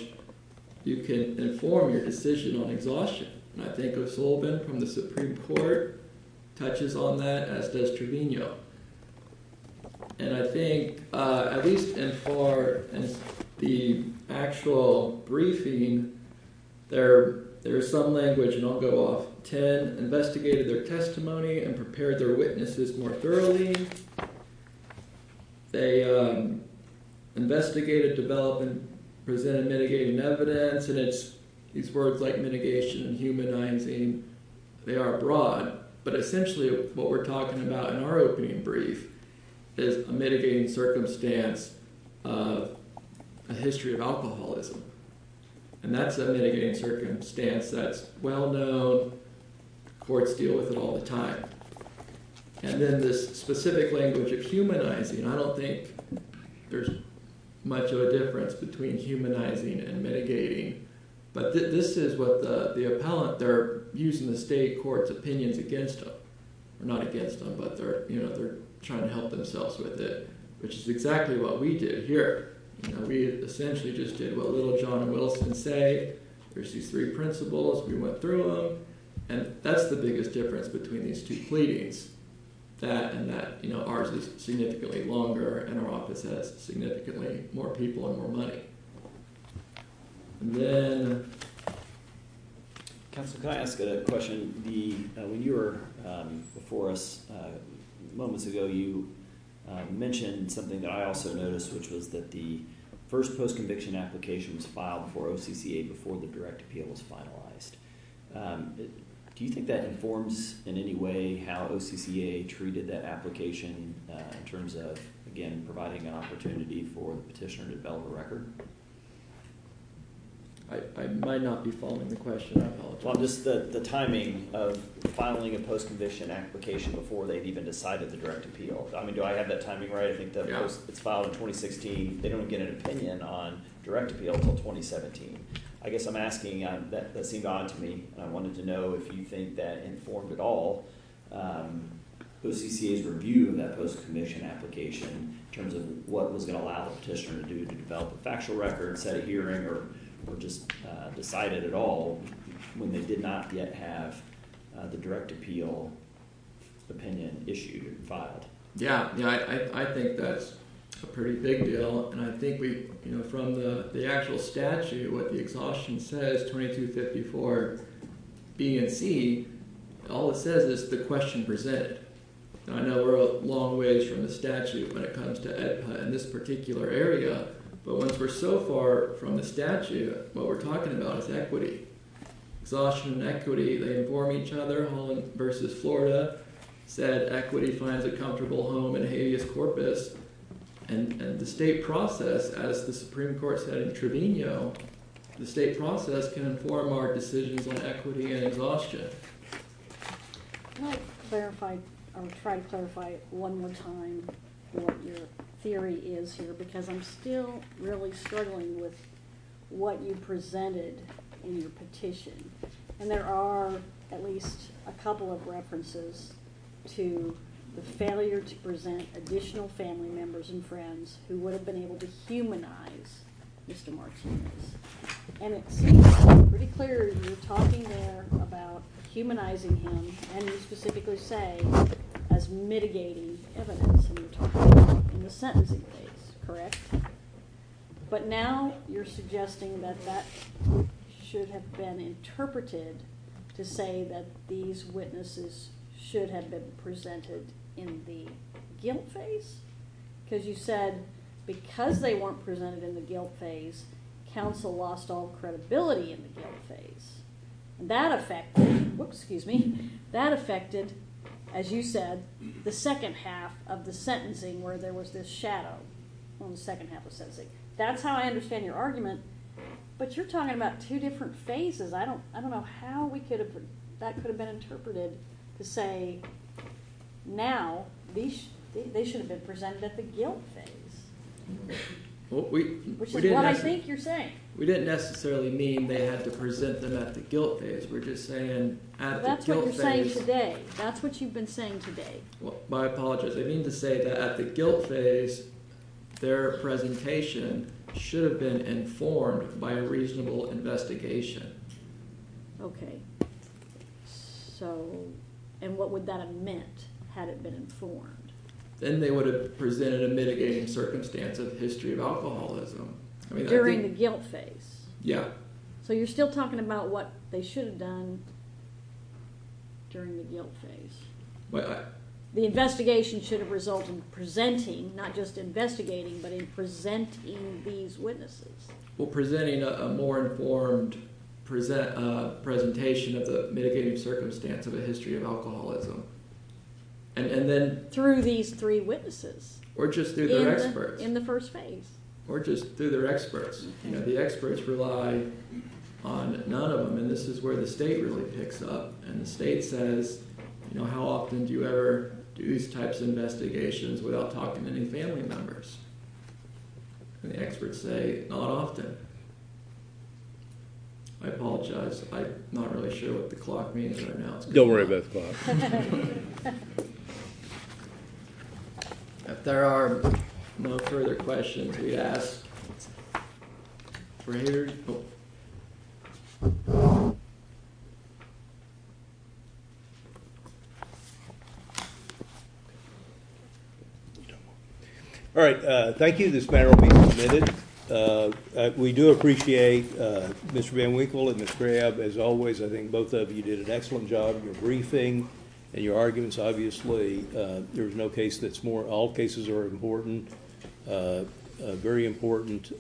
you can inform your decision on your lawsuit. I think O'Sullivan from the Supreme Court touches on that as does Trevino. And I think, at least for the actual briefing, there is some language, and I'll go off 10, investigated their testimony and prepared their witnesses more thoroughly. They investigated, developed, and presented mitigating evidence. And it's words like mitigation and humanizing. They are broad, but essentially what we're talking about in our opening brief is a mitigating circumstance, a history of alcoholism. And that's a mitigating circumstance that's well known. Courts deal with it all the time. And then the specific language of humanizing, I don't think there's much of a difference. There's a difference between humanizing and mitigating. But this is what the appellant, they're using the state court's opinion against them. Not against them, but they're trying to help themselves with it. Which is exactly what we did here. We essentially just did what little John Wilson say. There's these three principles, we went through them. And that's the biggest difference between these two pleadings. That and that ours is significantly longer and our office has significantly more people and more money. And then... Can I ask a question? When you were before us moments ago, you mentioned something that I also noticed, which was that the first post-conviction application was filed before OCCA, before the direct appeal was finalized. Do you think that informs in any way how OCCA treated that application in terms of, again, providing an opportunity for the petitioner to develop a record? I might not be following the question. Well, just the timing of filing a post-conviction application before they've even decided the direct appeal. I mean, do I have that timing right? I think that was filed in 2016. They don't get an opinion on direct appeal until 2017. I guess I'm asking, that seemed odd to me. I wanted to know if you think that informed at all OCCA's review in that post-conviction application in terms of what was going to allow the petitioner to do to develop a factual record instead of hearing or just decided at all when they did not yet have the direct appeal opinion issued and filed. Yeah, I think that's a pretty big deal. And I think from the actual statute, what the exhaustion says, 2254 BNT, all it says is the question presented. I know we're a long ways from the statute when it comes to EDPA in this particular area, but once we're so far from the statute, what we're talking about is equity. Exhaustion and equity, they inform each other. Holland v. Florida said equity finds a comfortable home in a habeas corpus. And the state process, as the Supreme Court said in Trevino, the state process can inform our decisions on equity and exhaustion. Can I try to clarify one more time what your theory is here? Because I'm still really struggling with what you presented in your petition. And there are at least a couple of references to the failure to present additional family members and friends who would have been able to humanize Mr. Marks. And it's pretty clear you're talking there about humanizing him, and you specifically say as mitigating evidence in the sentencing case, correct? But now you're suggesting that that should have been interpreted to say that these witnesses should have been presented in the guilt phase? Because you said because they weren't presented in the guilt phase, counsel lost all credibility in the guilt phase. And that affected, as you said, the second half of the sentencing where there was this shadow on the second half of the sentencing. That's how I understand your argument, but you're talking about two different phases. I don't know how that could have been interpreted to say now they should have been presented at the guilt phase. Which is what I think you're saying. We didn't necessarily mean they had to present them at the guilt phase. We're just saying at the guilt phase... That's what you're saying today. That's what you've been saying today. My apologies. I mean to say that at the guilt phase, their presentation should have been informed by reasonable investigation. Okay. So... And what would that have meant had it been informed? Then they would have presented a mitigating circumstance in the history of alcoholism. During the guilt phase? Yeah. So you're still talking about what they should have done during the guilt phase? Well... The investigation should have resulted in presenting, not just investigating, but in presenting these witnesses. Well, presenting a more informed presentation of the mitigating circumstance in the history of alcoholism. And then... Through these three witnesses. Or just through their experts. In the first phase. Or just through their experts. You know, the experts rely on none of them, and this is where the state really picks up. And the state says, you know, how often do you ever do these types of investigations without documenting family members? And the experts say, not often. I apologize. I'm not really sure what the clock means right now. Don't worry about the clock. If there are no further questions to be asked... Very cool. All right. Thank you to this panel for being submitted. We do appreciate Mr. VanWinkle and Ms. Frayab. As always, I think both of you did an excellent job. Your briefing and your arguments, obviously there's no case that's more... All cases are important. Very important.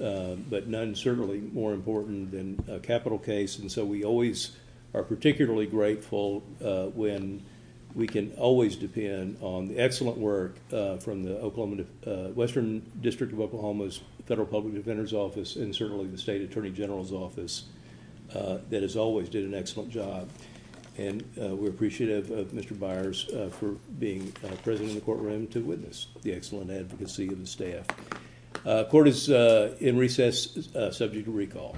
But none certainly more important than a capital case. And so we always are particularly grateful when we can always depend on the excellent work from the Western District of Oklahoma's Federal Public Defender's Office and certainly the State Attorney General's Office that has always did an excellent job. And we're appreciative of Mr. Byers for being present in the courtroom to witness the excellent advocacy of the staff. Court is in recess, subject to recall.